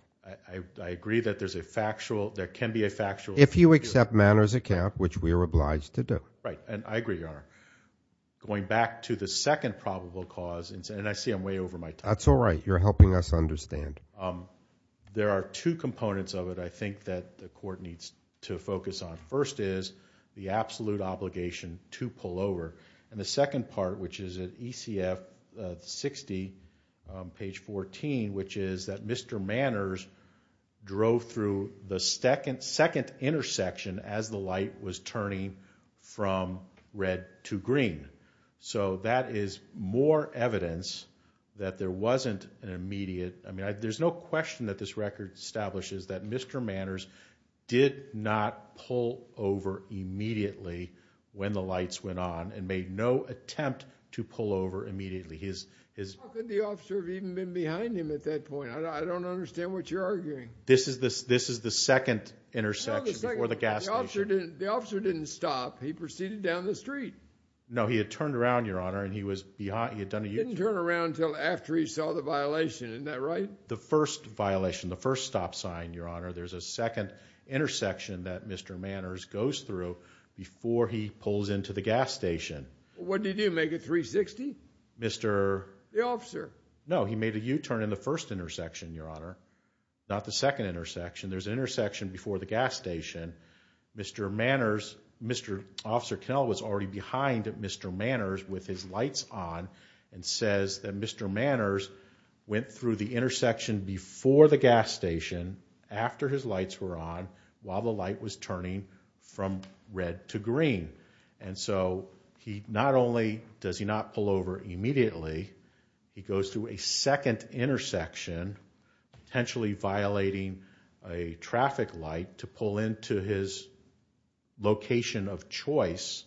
I agree that there can be a factual dispute. If you accept Manners' account, which we are obliged to do. Right, and I agree, Your Honor. Going back to the second probable cause, and I see I'm way over my time. That's all right. You're helping us understand. There are two components of it, I think, that the court needs to focus on. The first is the absolute obligation to pull over. And the second part, which is at ECF 60, page 14, which is that Mr. Manners drove through the second intersection as the light was turning from red to green. So that is more evidence that there wasn't an immediate, I mean, there's no question that this record establishes that Mr. Manners did not pull over immediately when the lights went on and made no attempt to pull over immediately. How could the officer have even been behind him at that point? I don't understand what you're arguing. This is the second intersection before the gas station. The officer didn't stop. He proceeded down the street. No, he had turned around, Your Honor, and he had done a U-turn. He didn't turn around until after he saw the violation. Isn't that right? The first violation, the first stop sign, Your Honor, there's a second intersection that Mr. Manners goes through before he pulls into the gas station. What did he do, make a 360? Mr.... The officer. No, he made a U-turn in the first intersection, Your Honor, not the second intersection. There's an intersection before the gas station. Mr. Manners, Mr. Officer Knell was already behind Mr. Manners with his lights on and says that Mr. Manners went through the intersection before the gas station, after his lights were on, while the light was turning from red to green. And so he not only does he not pull over immediately, he goes to a second intersection, potentially violating a traffic light to pull into his location of choice,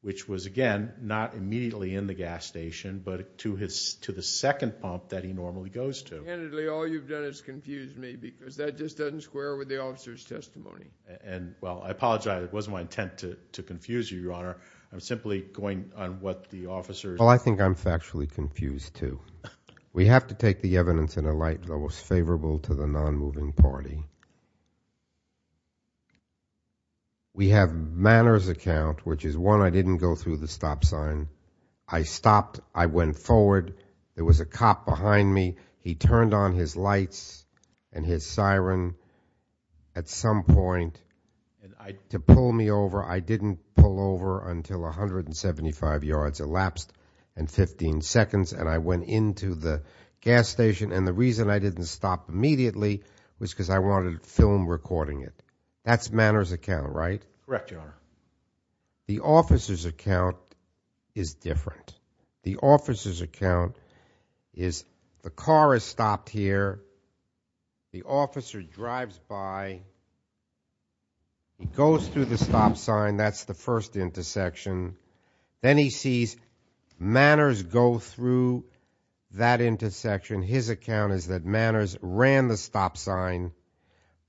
which was, again, not immediately in the gas station, but to the second pump that he normally goes to. Candidly, all you've done is confuse me because that just doesn't square with the officer's testimony. And, well, I apologize. It wasn't my intent to confuse you, Your Honor. I'm simply going on what the officer... Well, I think I'm factually confused, too. We have to take the evidence in a light that was favorable to the nonmoving party. We have Manners' account, which is one, I didn't go through the stop sign. I stopped. I went forward. There was a cop behind me. He turned on his lights and his siren at some point to pull me over. I didn't pull over until 175 yards, elapsed in 15 seconds, and I went into the gas station. And the reason I didn't stop immediately was because I wanted to go to the gas station. I wanted to film recording it. That's Manners' account, right? Correct, Your Honor. The officer's account is different. The officer's account is the car has stopped here. The officer drives by. He goes through the stop sign. That's the first intersection. Then he sees Manners go through that intersection. His account is that Manners ran the stop sign.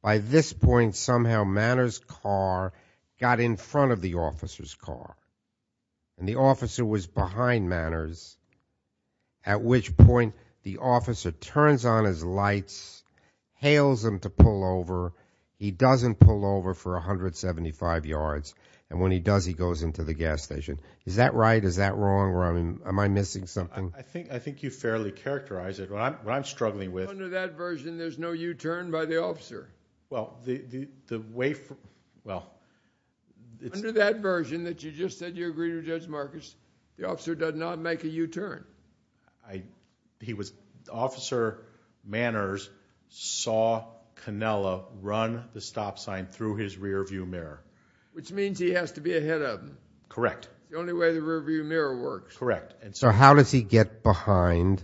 By this point, somehow Manners' car got in front of the officer's car, and the officer was behind Manners, at which point the officer turns on his lights, hails him to pull over. He doesn't pull over for 175 yards, and when he does, he goes into the gas station. Is that right? Is that wrong? Am I missing something? I think you fairly characterized it. What I'm struggling with— Under that version, there's no U-turn by the officer. Under that version that you just said you agreed with Judge Marcus, the officer does not make a U-turn. Officer Manners saw Cannella run the stop sign through his rearview mirror. Which means he has to be ahead of him. Correct. The only way the rearview mirror works. Correct. So how does he get behind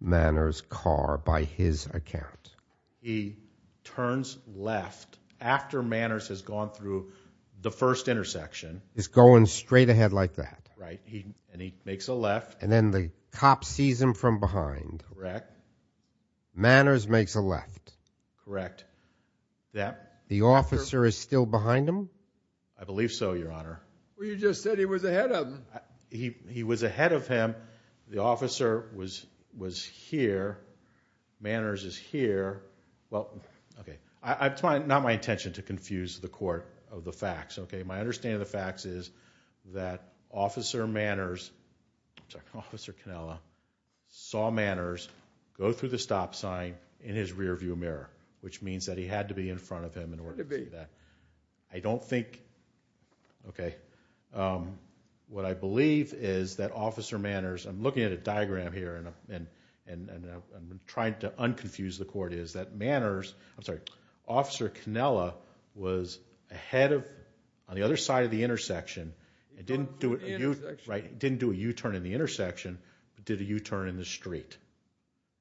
Manners' car by his account? He turns left after Manners has gone through the first intersection. He's going straight ahead like that. Right. And he makes a left. And then the cop sees him from behind. Correct. Manners makes a left. Correct. The officer is still behind him? I believe so, Your Honor. Well, you just said he was ahead of him. He was ahead of him. The officer was here. Manners is here. Well, okay. I'm trying—not my intention to confuse the court of the facts, okay? My understanding of the facts is that Officer Manners— sorry, Officer Cannella— saw Manners go through the stop sign in his rearview mirror. Which means that he had to be in front of him in order to do that. I don't think— Okay. What I believe is that Officer Manners— I'm looking at a diagram here and I'm trying to unconfuse the court— is that Manners—I'm sorry— Officer Cannella was ahead of him on the other side of the intersection. He didn't do a U— Intersection. Right. He didn't do a U-turn in the intersection. He did a U-turn in the street.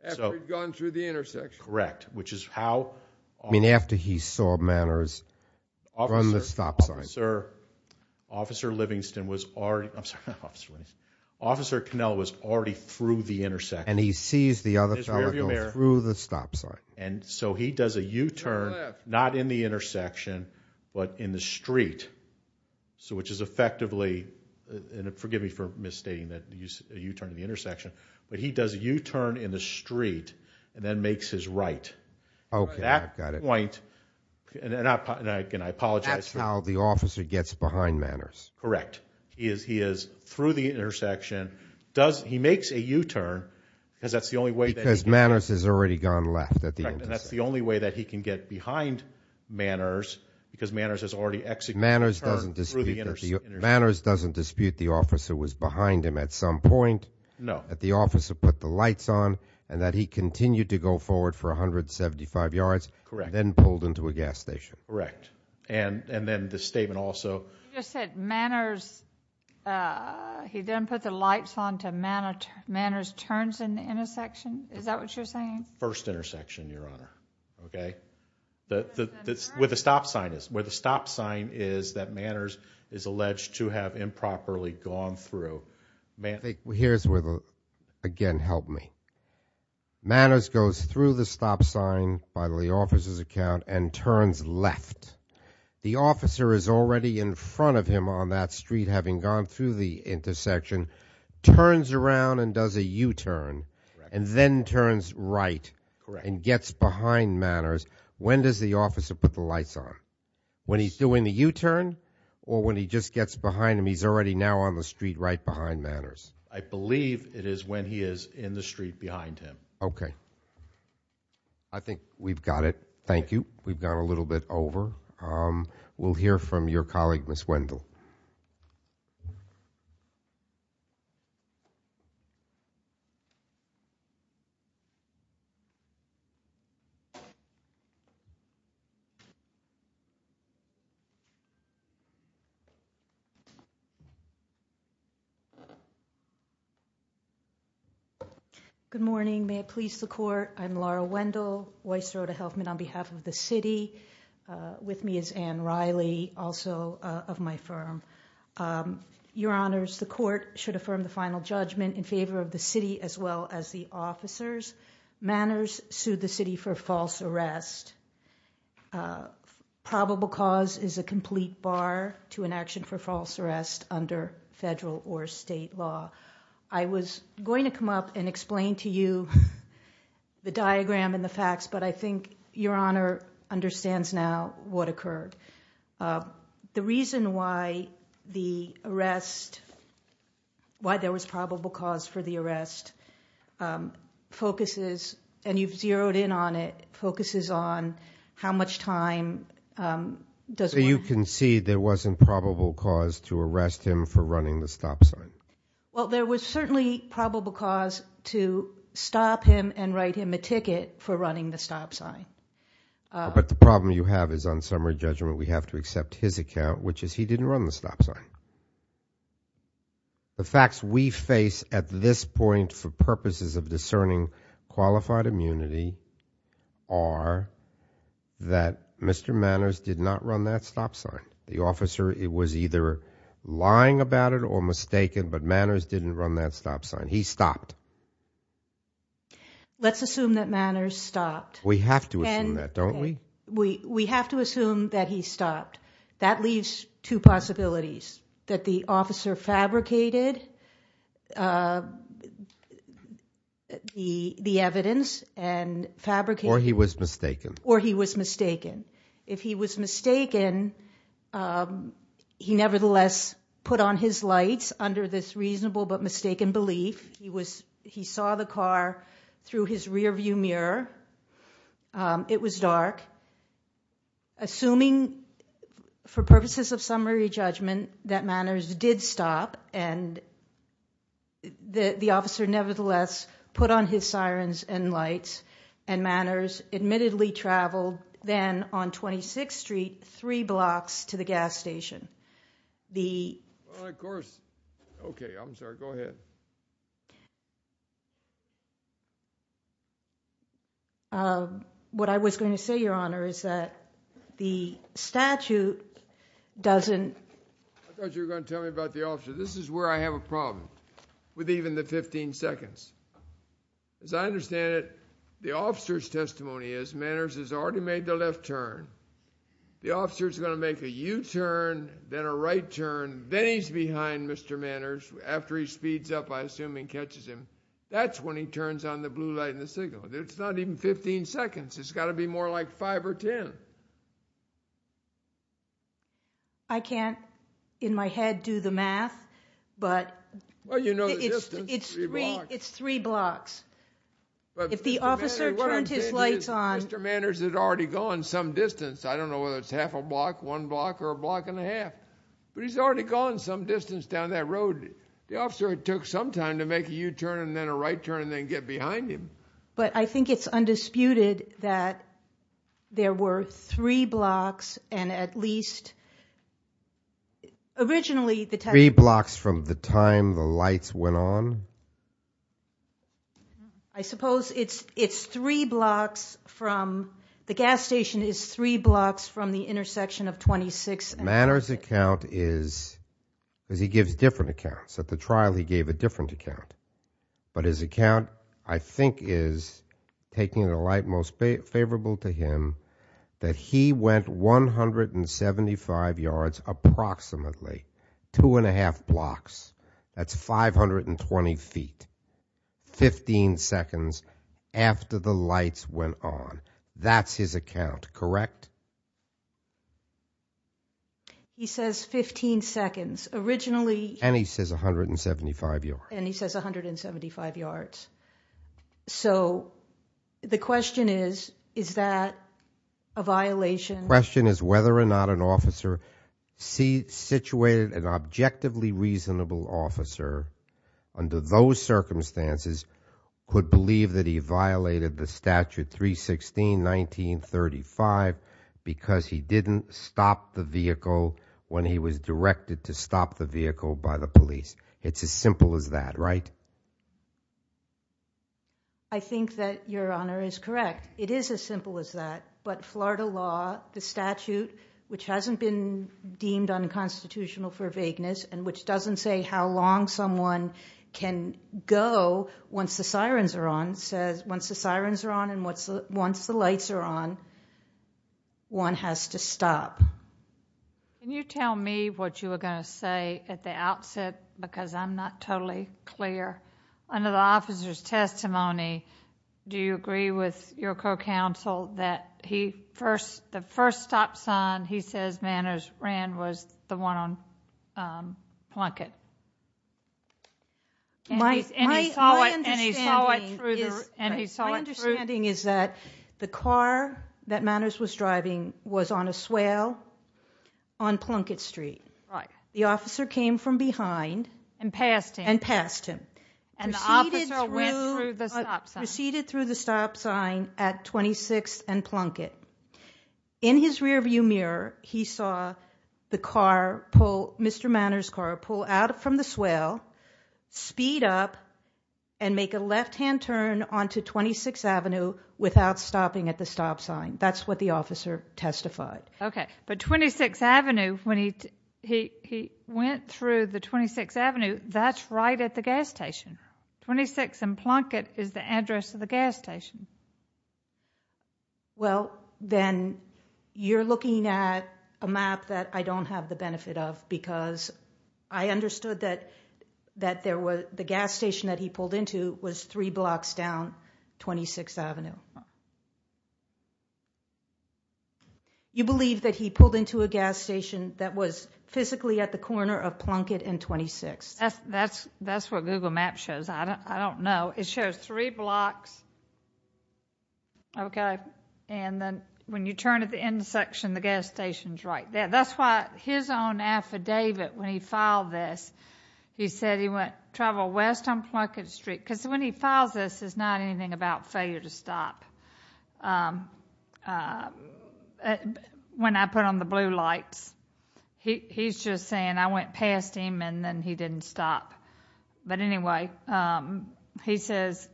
After he'd gone through the intersection. Correct. Which is how— I mean, after he saw Manners run the stop sign. Officer Livingston was already— I'm sorry, Officer Livingston. Officer Cannella was already through the intersection. And he sees the other fellow going through the stop sign. And so he does a U-turn, not in the intersection, but in the street. So which is effectively— and forgive me for misstating that— a U-turn in the intersection. But he does a U-turn in the street and then makes his right. Okay, I got it. At that point— That's how the officer gets behind Manners. Correct. He is through the intersection. He makes a U-turn because that's the only way that he can— Because Manners has already gone left. That's the only way that he can get behind Manners, because Manners has already executed a U-turn through the intersection. Manners doesn't dispute that the officer was behind him at some point. No. That the officer put the lights on and that he continued to go forward for 175 yards. Correct. And then pulled into a gas station. Correct. And then the statement also— You just said Manners—he then put the lights on until Manners turns in the intersection. Is that what you're saying? First intersection, Your Honor. Okay? Where the stop sign is. Where the stop sign is that Manners is alleged to have improperly gone through. Here's where, again, help me. Manners goes through the stop sign. By the officer's account, and turns left. The officer is already in front of him on that street, having gone through the intersection, turns around and does a U-turn, and then turns right and gets behind Manners. When does the officer put the lights on? When he's doing the U-turn or when he just gets behind him? He's already now on the street right behind Manners. I believe it is when he is in the street behind him. Okay. I think we've got it. Thank you. We've gone a little bit over. We'll hear from your colleague, Ms. Wendell. Good morning. May it please the court. I'm Laura Wendell, OYSERDA Healthman on behalf of the city. With me is Anne Riley, also of my firm. Your Honors, the court should affirm the final judgment in favor of the city as well as the officers. Manners sued the city for false arrest. Probable cause is a complete bar to an action for false arrest under federal or state law. I was going to come up and explain to you the diagram and the facts, but I think Your Honor understands now what occurred. The reason why the arrest, why there was probable cause for the arrest, focuses, and you've zeroed in on it, focuses on how much time does one- So you concede there wasn't probable cause to arrest him for running the stop sign? Well, there was certainly probable cause to stop him and write him a ticket for running the stop sign. But the problem you have is on summary judgment we have to accept his account, which is he didn't run the stop sign. The facts we face at this point for purposes of discerning qualified immunity are that Mr. Manners did not run that stop sign. The officer was either lying about it or mistaken, but Manners didn't run that stop sign. He stopped. Let's assume that Manners stopped. We have to assume that, don't we? We have to assume that he stopped. That leaves two possibilities, that the officer fabricated the evidence and fabricated- Or he was mistaken. Or he was mistaken. If he was mistaken, he nevertheless put on his lights under this reasonable but mistaken belief. He saw the car through his rearview mirror. It was dark. Assuming for purposes of summary judgment that Manners did stop and the officer nevertheless put on his sirens and lights and Manners admittedly traveled then on 26th Street three blocks to the gas station. Of course. Okay, I'm sorry. Go ahead. What I was going to say, Your Honor, is that the statute doesn't- I thought you were going to tell me about the officer. This is where I have a problem with even the 15 seconds. As I understand it, the officer's testimony is Manners has already made the left turn. The officer's going to make a U-turn, then a right turn, then he's behind Mr. Manners. After he speeds up, I assume, and catches him. That's when he turns on the blue light and the signal. It's not even 15 seconds. It's got to be more like 5 or 10. I can't in my head do the math, but- If the officer turns his lights on- Mr. Manners had already gone some distance. I don't know whether it's half a block, one block, or a block and a half, but he's already gone some distance down that road. The officer took some time to make a U-turn, then a right turn, then get behind him. But I think it's undisputed that there were three blocks and at least- Three blocks from the time the lights went on? I suppose it's three blocks from- the gas station is three blocks from the intersection of 26th and- Manners' account is- he gives different accounts. At the trial, he gave a different account. But his account, I think, is, taking the light most favorable to him, that he went 175 yards, approximately, two and a half blocks. That's 520 feet. 15 seconds after the lights went on. That's his account, correct? He says 15 seconds. Originally- And he says 175 yards. And he says 175 yards. So, the question is, is that a violation? The question is whether or not an officer- situated an objectively reasonable officer under those circumstances could believe that he violated the statute 316.19.35 because he didn't stop the vehicle when he was directed to stop the vehicle by the police. It's as simple as that, right? I think that your Honor is correct. It is as simple as that. But Florida law, the statute, which hasn't been deemed unconstitutional for vagueness, and which doesn't say how long someone can go once the sirens are on, says once the sirens are on and once the lights are on, one has to stop. Can you tell me what you were going to say at the outset? Because I'm not totally clear. Under the officer's testimony, do you agree with your co-counsel that the first stop sign he says Manners ran was the one on Plunkett? My understanding is that the car that Manners was driving was on a swale on Plunkett Street. The officer came from behind and passed him, proceeded through the stop sign at 26th and Plunkett. In his rearview mirror, he saw Mr. Manners' car pull out from the swale, speed up, and make a left-hand turn onto 26th Avenue without stopping at the stop sign. That's what the officer testified. Okay, but 26th Avenue, when he went through the 26th Avenue, that's right at the gas station. 26th and Plunkett is the address of the gas station. Well, then you're looking at a map that I don't have the benefit of because I understood that the gas station that he pulled into was three blocks down 26th Avenue. You believe that he pulled into a gas station that was physically at the corner of Plunkett and 26th? That's what Google Maps shows. I don't know. It shows three blocks, okay, and then when you turn at the end section, the gas station's right there. That's why his own affidavit when he filed this, he said he went travel west on Plunkett Street because when he files this, it's not anything about failure to stop. When I put on the blue lights, he's just saying I went past him and then he didn't stop. But anyway, he says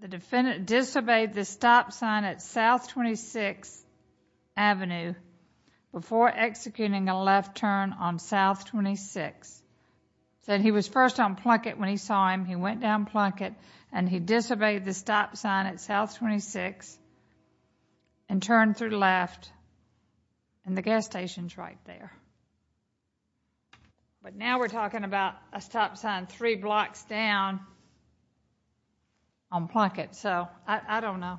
the defendant disobeyed the stop sign at South 26th Avenue before executing a left turn on South 26th. He said he was first on Plunkett when he saw him. He went down Plunkett and he disobeyed the stop sign at South 26th and turned to the left and the gas station's right there. But now we're talking about a stop sign three blocks down on Plunkett, so I don't know.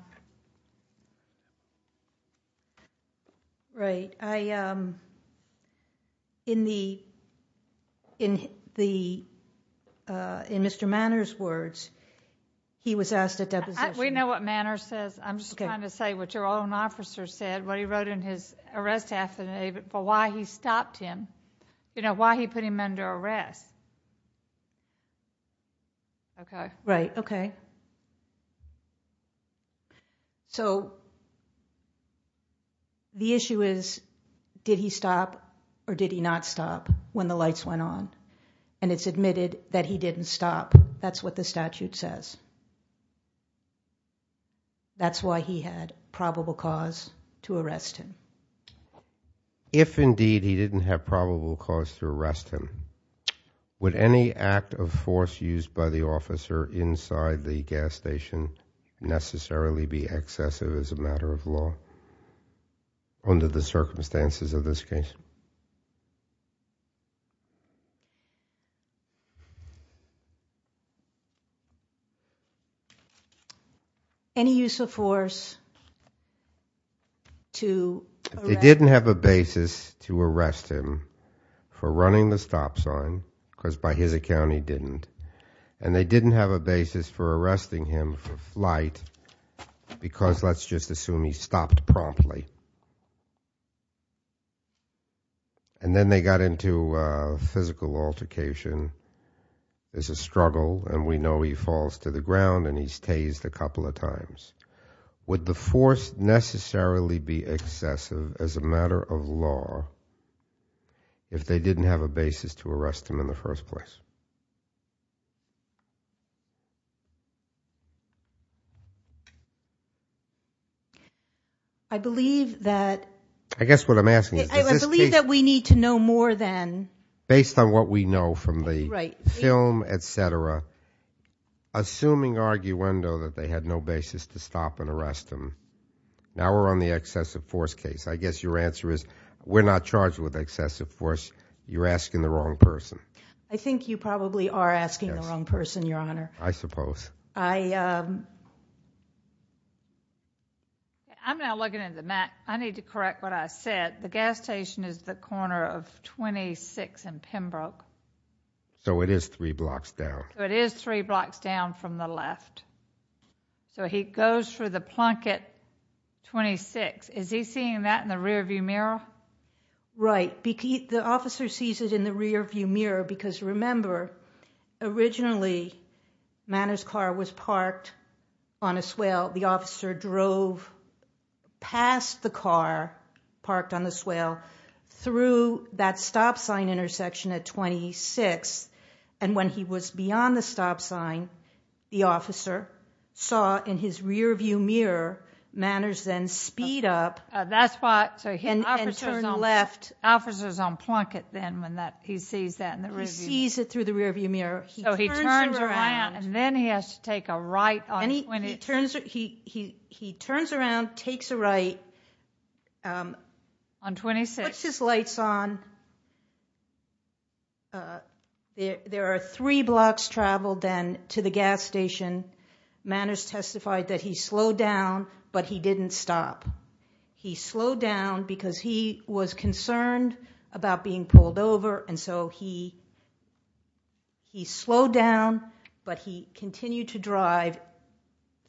Right. In Mr. Manor's words, he was asked a deposition. We know what Manor says. I'm just trying to say what your own officer said, what he wrote in his arrest affidavit for why he stopped him, you know, why he put him under arrest. Okay. Right, okay. So the issue is did he stop or did he not stop when the lights went on? And it's admitted that he didn't stop. That's what the statute says. That's why he had probable cause to arrest him. If, indeed, he didn't have probable cause to arrest him, would any act of force used by the officer inside the gas station necessarily be excessive as a matter of law under the circumstances of this case? Any use of force to arrest him? They didn't have a basis to arrest him for running the stop sign, because by his account he didn't. And they didn't have a basis for arresting him for flight because let's just assume he stopped promptly. And then they got into a physical altercation. It's a struggle, and we know he falls to the ground, and he's tased a couple of times. Would the force necessarily be excessive as a matter of law if they didn't have a basis to arrest him in the first place? I believe that... I guess what I'm asking is... I believe that we need to know more than... Based on what we know from the film, et cetera, assuming arguendo that they had no basis to stop and arrest him, now we're on the excessive force case. I guess your answer is we're not charged with excessive force. You're asking the wrong person. I think you've got it. You probably are asking the wrong person, Your Honor. I suppose. I'm now looking at the map. I need to correct what I said. The gas station is the corner of 26th and Pembroke. So it is three blocks down. So it is three blocks down from the left. So he goes through the plunk at 26th. Is he seeing that in the rearview mirror? Right. The officer sees it in the rearview mirror because, remember, originally Manor's car was parked on a swale. The officer drove past the car parked on the swale through that stop sign intersection at 26th. And when he was beyond the stop sign, the officer saw in his rearview mirror Manor's then speed up... That's what... The officer's on plunket then when he sees that. He sees it through the rearview mirror. So he turns around and then he has to take a right on 26th. He turns around, takes a right. On 26th. He puts his lights on. There are three blocks traveled then to the gas station. Manor's testified that he slowed down, but he didn't stop. He slowed down because he was concerned about being pulled over and so he slowed down, but he continued to drive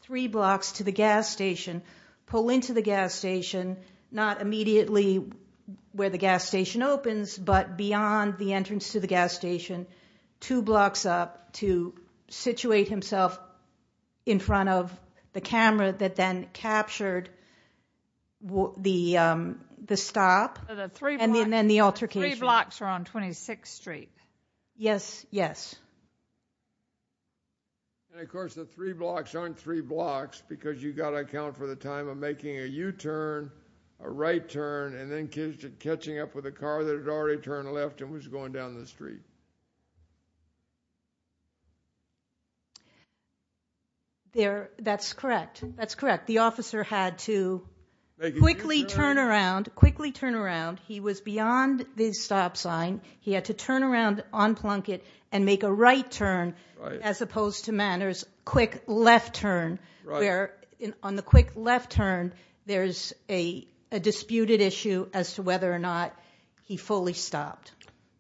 three blocks to the gas station, pull into the gas station, not immediately where the gas station opens but beyond the entrance to the gas station, two blocks up to situate himself in front of the camera that then captured the stop and then the altercation. Three blocks are on 26th Street. Yes, yes. And, of course, the three blocks aren't three blocks because you've got to account for the time of making a U-turn, a right turn, and then catching up with a car that had already turned left and was going down the street. That's correct. That's correct. The officer had to quickly turn around, quickly turn around. He was beyond the stop sign. He had to turn around on Plunkett and make a right turn as opposed to Manor's quick left turn where on the quick left turn there's a disputed issue Let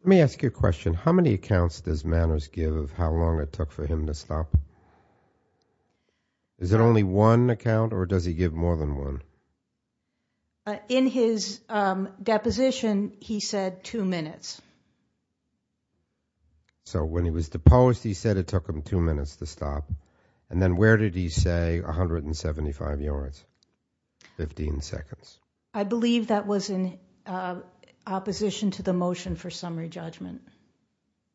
me ask you a question. How many accounts does Manors give of how long it took for him to stop? Is it only one account or does he give more than one? In his deposition he said two minutes. So when he was deposed he said it took him two minutes to stop. And then where did he say 175 yards, 15 seconds? I believe that was in opposition to the motion for summary judgment.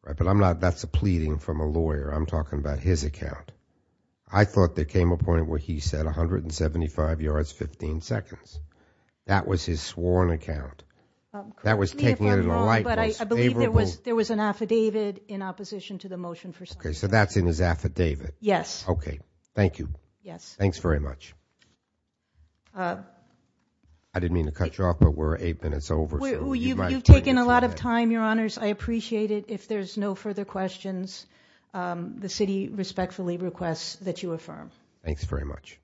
But that's a pleading from a lawyer. I'm talking about his account. I thought there came a point where he said 175 yards, 15 seconds. That was his sworn account. That was taken in the likeness. I believe there was an affidavit in opposition to the motion for summary judgment. So that's in his affidavit. Yes. Okay. Thank you. Thanks very much. I didn't mean to cut you off, but we're eight minutes over. You've taken a lot of time, Your Honors. I appreciate it. If there's no further questions, the city respectfully requests that you affirm. Thanks very much.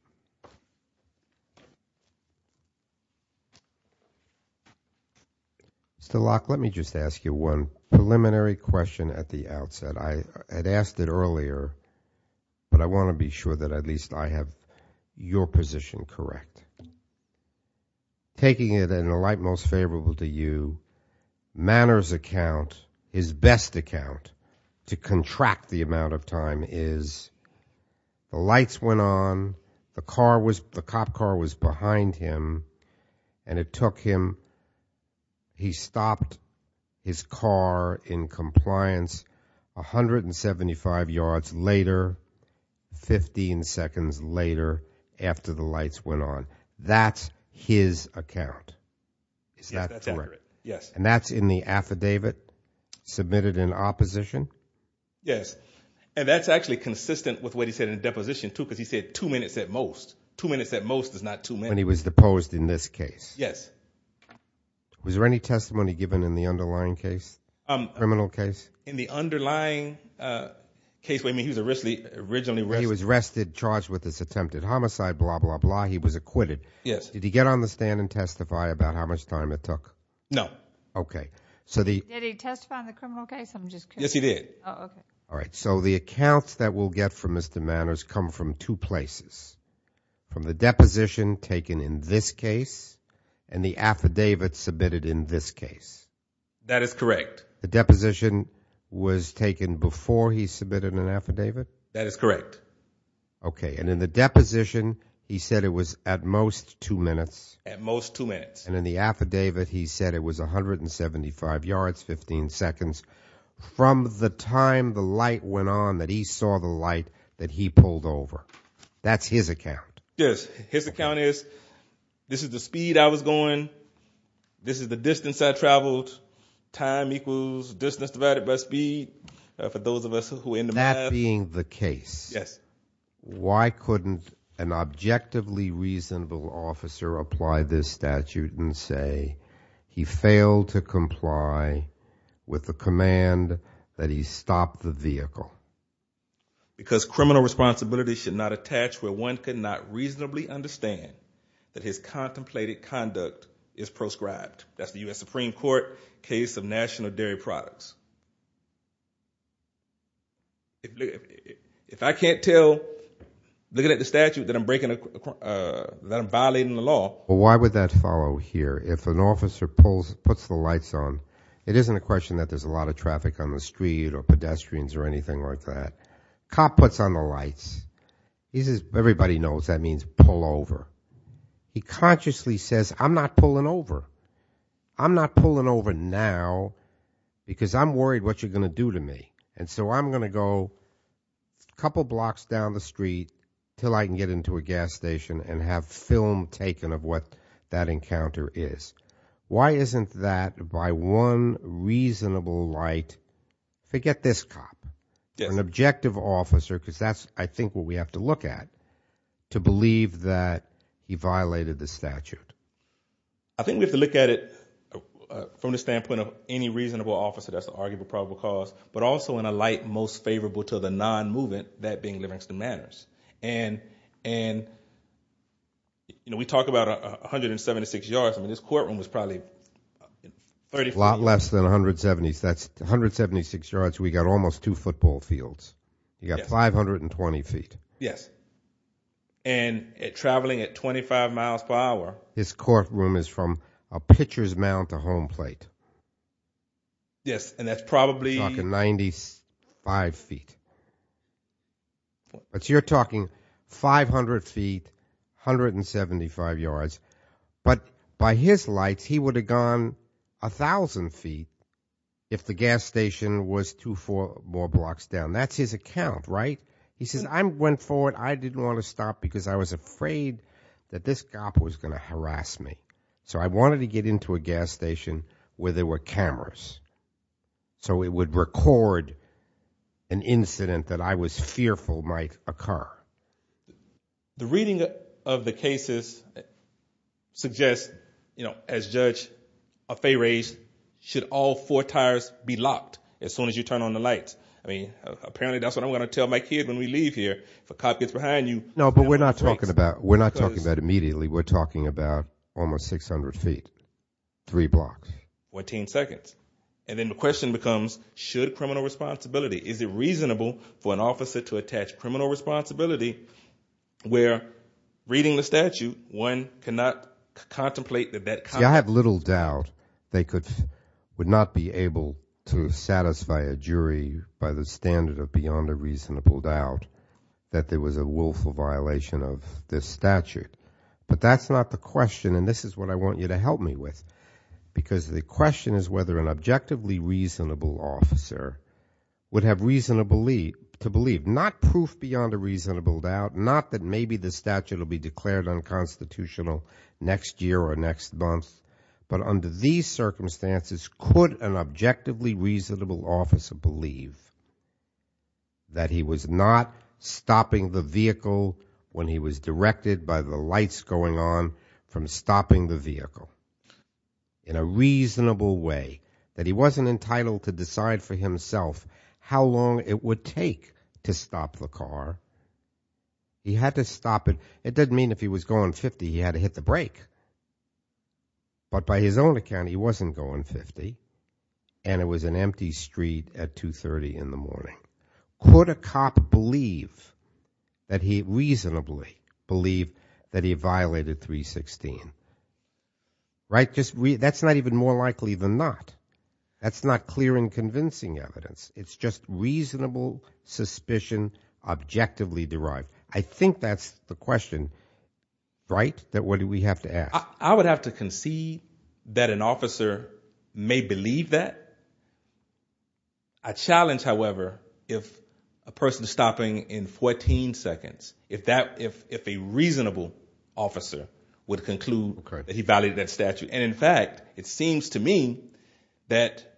Mr. Locke, let me just ask you one preliminary question at the outset. I had asked it earlier, but I want to be sure that at least I have your position correct. Taking it in the light most favorable to you, Manor's account, his best account to contract the amount of time is the lights went on, the cop car was behind him, and it took him, he stopped his car in compliance 175 yards later, 15 seconds later after the lights went on. That's his account. Is that correct? Yes. And that's in the affidavit submitted in opposition? Yes. And that's actually consistent with what he said in the deposition, too, because he said two minutes at most. Two minutes at most is not two minutes. And he was deposed in this case. Yes. Was there any testimony given in the underlying case, criminal case? In the underlying case, he was originally arrested. He was arrested, charged with this attempted homicide, blah, blah, blah. He was acquitted. Yes. Did he get on the stand and testify about how much time it took? No. Okay. Did he testify in the criminal case? Yes, he did. Oh, okay. All right. So the accounts that we'll get from Mr. Manor's come from two places, from the deposition taken in this case and the affidavit submitted in this case. That is correct. The deposition was taken before he submitted an affidavit? That is correct. Okay. And in the deposition, he said it was at most two minutes. At most two minutes. And in the affidavit, he said it was 175 yards, 15 seconds, from the time the light went on that he saw the light that he pulled over. That's his account. Yes. His account is this is the speed I was going. This is the distance I traveled. Time equals distance divided by speed. For those of us who in the past. That being the case. Yes. Why couldn't an objectively reasonable officer apply this statute and say he failed to comply with the command that he stopped the vehicle? Because criminal responsibility should not attach where one cannot reasonably understand that his contemplated conduct is proscribed. That's the U.S. Supreme Court case of national dairy products. If I can't tell, looking at the statute, that I'm violating the law. Well, why would that follow here? If an officer puts the lights on, it isn't a question that there's a lot of traffic on the street or pedestrians or anything like that. Cop puts on the lights. He says everybody knows that means pull over. He consciously says I'm not pulling over. I'm not pulling over now because I'm worried what you're going to do to me. And so I'm going to go a couple blocks down the street until I can get into a gas station and have film taken of what that encounter is. Why isn't that by one reasonable light? Forget this cop, an objective officer, because that's I think what we have to look at to believe that he violated the statute. I think we have to look at it from the standpoint of any reasonable officer that's an arguable probable cause, but also in a light most favorable to the non-movement that being Livingston Manors. And, and, you know, we talked about 176 yards. I mean, this courtroom was probably a lot less than 170. That's 176 yards. We got almost two football fields. You got 520 feet. Yes. And traveling at 25 miles per hour. His courtroom is from a pitcher's mount to home plate. Yes. And that's probably 95 feet. But you're talking 500 feet, 175 yards. But by his light, he would have gone a thousand feet if the gas station was two, four more blocks down. That's his account, right? He says, I'm went forward. I didn't want to stop because I was afraid that this cop was going to harass me. So I wanted to get into a gas station where there were cameras. So it would record an incident that I was fearful might occur. The reading of the cases suggests, you know, as judge of a race, should all four tires be locked as soon as you turn on the lights? I mean, apparently that's what I'm going to tell my kid when we leave here for copies behind you. No, but we're not talking about, we're not talking about immediately. We're talking about almost 600 feet, three blocks, 14 seconds. And then the question becomes, should criminal responsibility, is it reasonable for an officer to attach criminal responsibility where reading the statute? One cannot contemplate that. I have little doubt. They could, would not be able to satisfy a jury by the standard of beyond a reasonable doubt that there was a willful violation of this statute, but that's not the question. And this is what I want you to help me with because the question is whether an officer would have reason to believe, to believe, not proof beyond a reasonable doubt, not that maybe the statute will be declared unconstitutional next year or next month, but under these circumstances, could an objectively reasonable officer believe that he was not stopping the vehicle when he was directed by the lights going on from stopping the vehicle in a reasonable way that he wasn't entitled to decide for himself, how long it would take to stop the car. He had to stop it. It doesn't mean if he was going 50, he had to hit the brake, but by his own account, he wasn't going 50 and it was an empty street at two 30 in the morning. Could a cop believe that he reasonably believe that he violated three 16, right? Just re that's not even more likely than not. That's not clear and convincing evidence. It's just reasonable suspicion objectively derived. I think that's the question, right? That what do we have to ask? I would have to concede that an officer may believe that. I challenge. However, if a person stopping in 14 seconds, if that if, if a reasonable officer would conclude that he valued that statute. And in fact, it seems to me that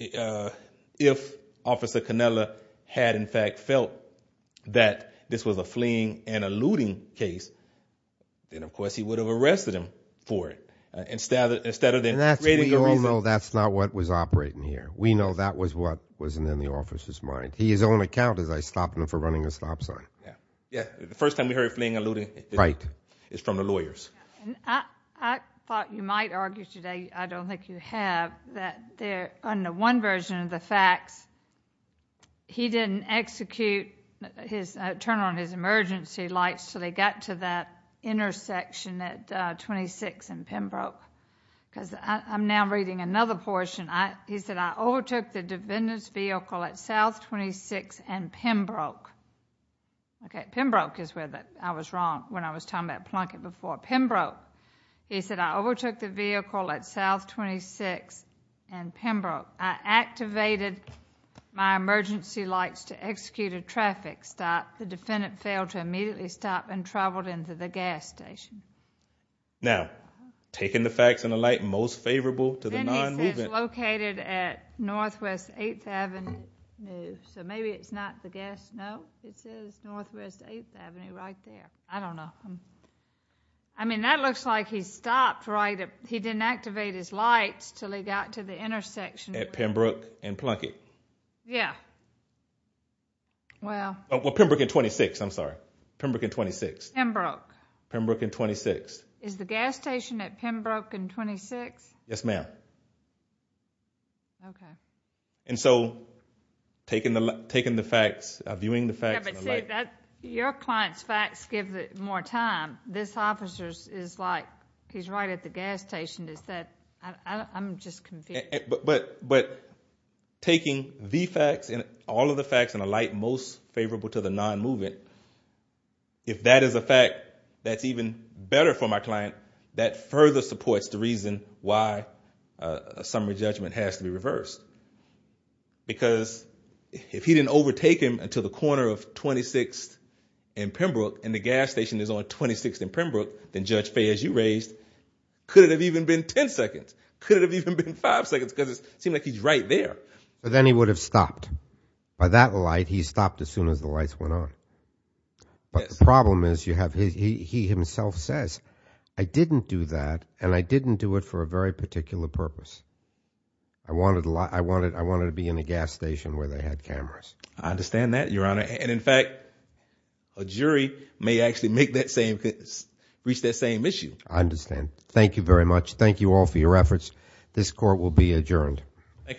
if officer Canella had in fact felt that this was a fleeing and alluding case, then of course he would have arrested him for it. Instead of, instead of that, we know that's not what was operating here. We know that was what wasn't in the officer's mind. He is on account as I stopped him for running a stop sign. Yeah. Yeah. The first time we heard playing a little bit is from the lawyers. I thought you might argue today. I don't think you have that there under one version of the fact he didn't execute his turn on his emergency lights. So they got to that intersection at 26 and Pembroke because I'm now reading another portion. I, he said, I overtook the defendant's vehicle at South 26 and Pembroke. Okay. Pembroke is where that I was wrong. When I was talking about Plunkett before Pembroke, he said, I overtook the vehicle at South 26 and Pembroke. I activated my emergency lights to execute a traffic stop. The defendant failed to immediately stop and traveled into the gas station. Now taking the facts and the light and most favorable to the non movement located at Northwest eighth Avenue. So maybe it's not the gas. No, Northwest eighth Avenue right there. I don't know. I mean, that looks like he stopped right at, he didn't activate his lights till he got to the intersection at Pembroke and Plunkett. Yeah. Well, well Pembroke at 26, I'm sorry. Pembroke at 26. Pembroke. Pembroke at 26 is the gas station at Pembroke and 26. Yes, ma'am. Okay. And so taking the, taking the facts, viewing the facts. Your client's facts gives it more time. This officer is like, he's right at the gas station. Is that, I'm just confused. But, but, but taking the facts and all of the facts and the light, most favorable to the non movement. If that is a fact that's even better for my client, because if he didn't overtake him until the corner of 26 in Pembroke and the gas station is on 26 in Pembroke, then judge pay as you raised could have even been 10 seconds could have even been five seconds. Doesn't seem like he's right there. But then he would have stopped by that light. He stopped as soon as the lights went on. But the problem is you have, he himself says, I didn't do that. And I didn't do it for a very particular purpose. I wanted a lot. I wanted, I wanted to be in the gas station where they had cameras. I understand that your honor. And in fact, a jury may actually make that same fit, reach that same issue. I understand. Thank you very much. Thank you all for your efforts. This court will be adjourned. Thank you.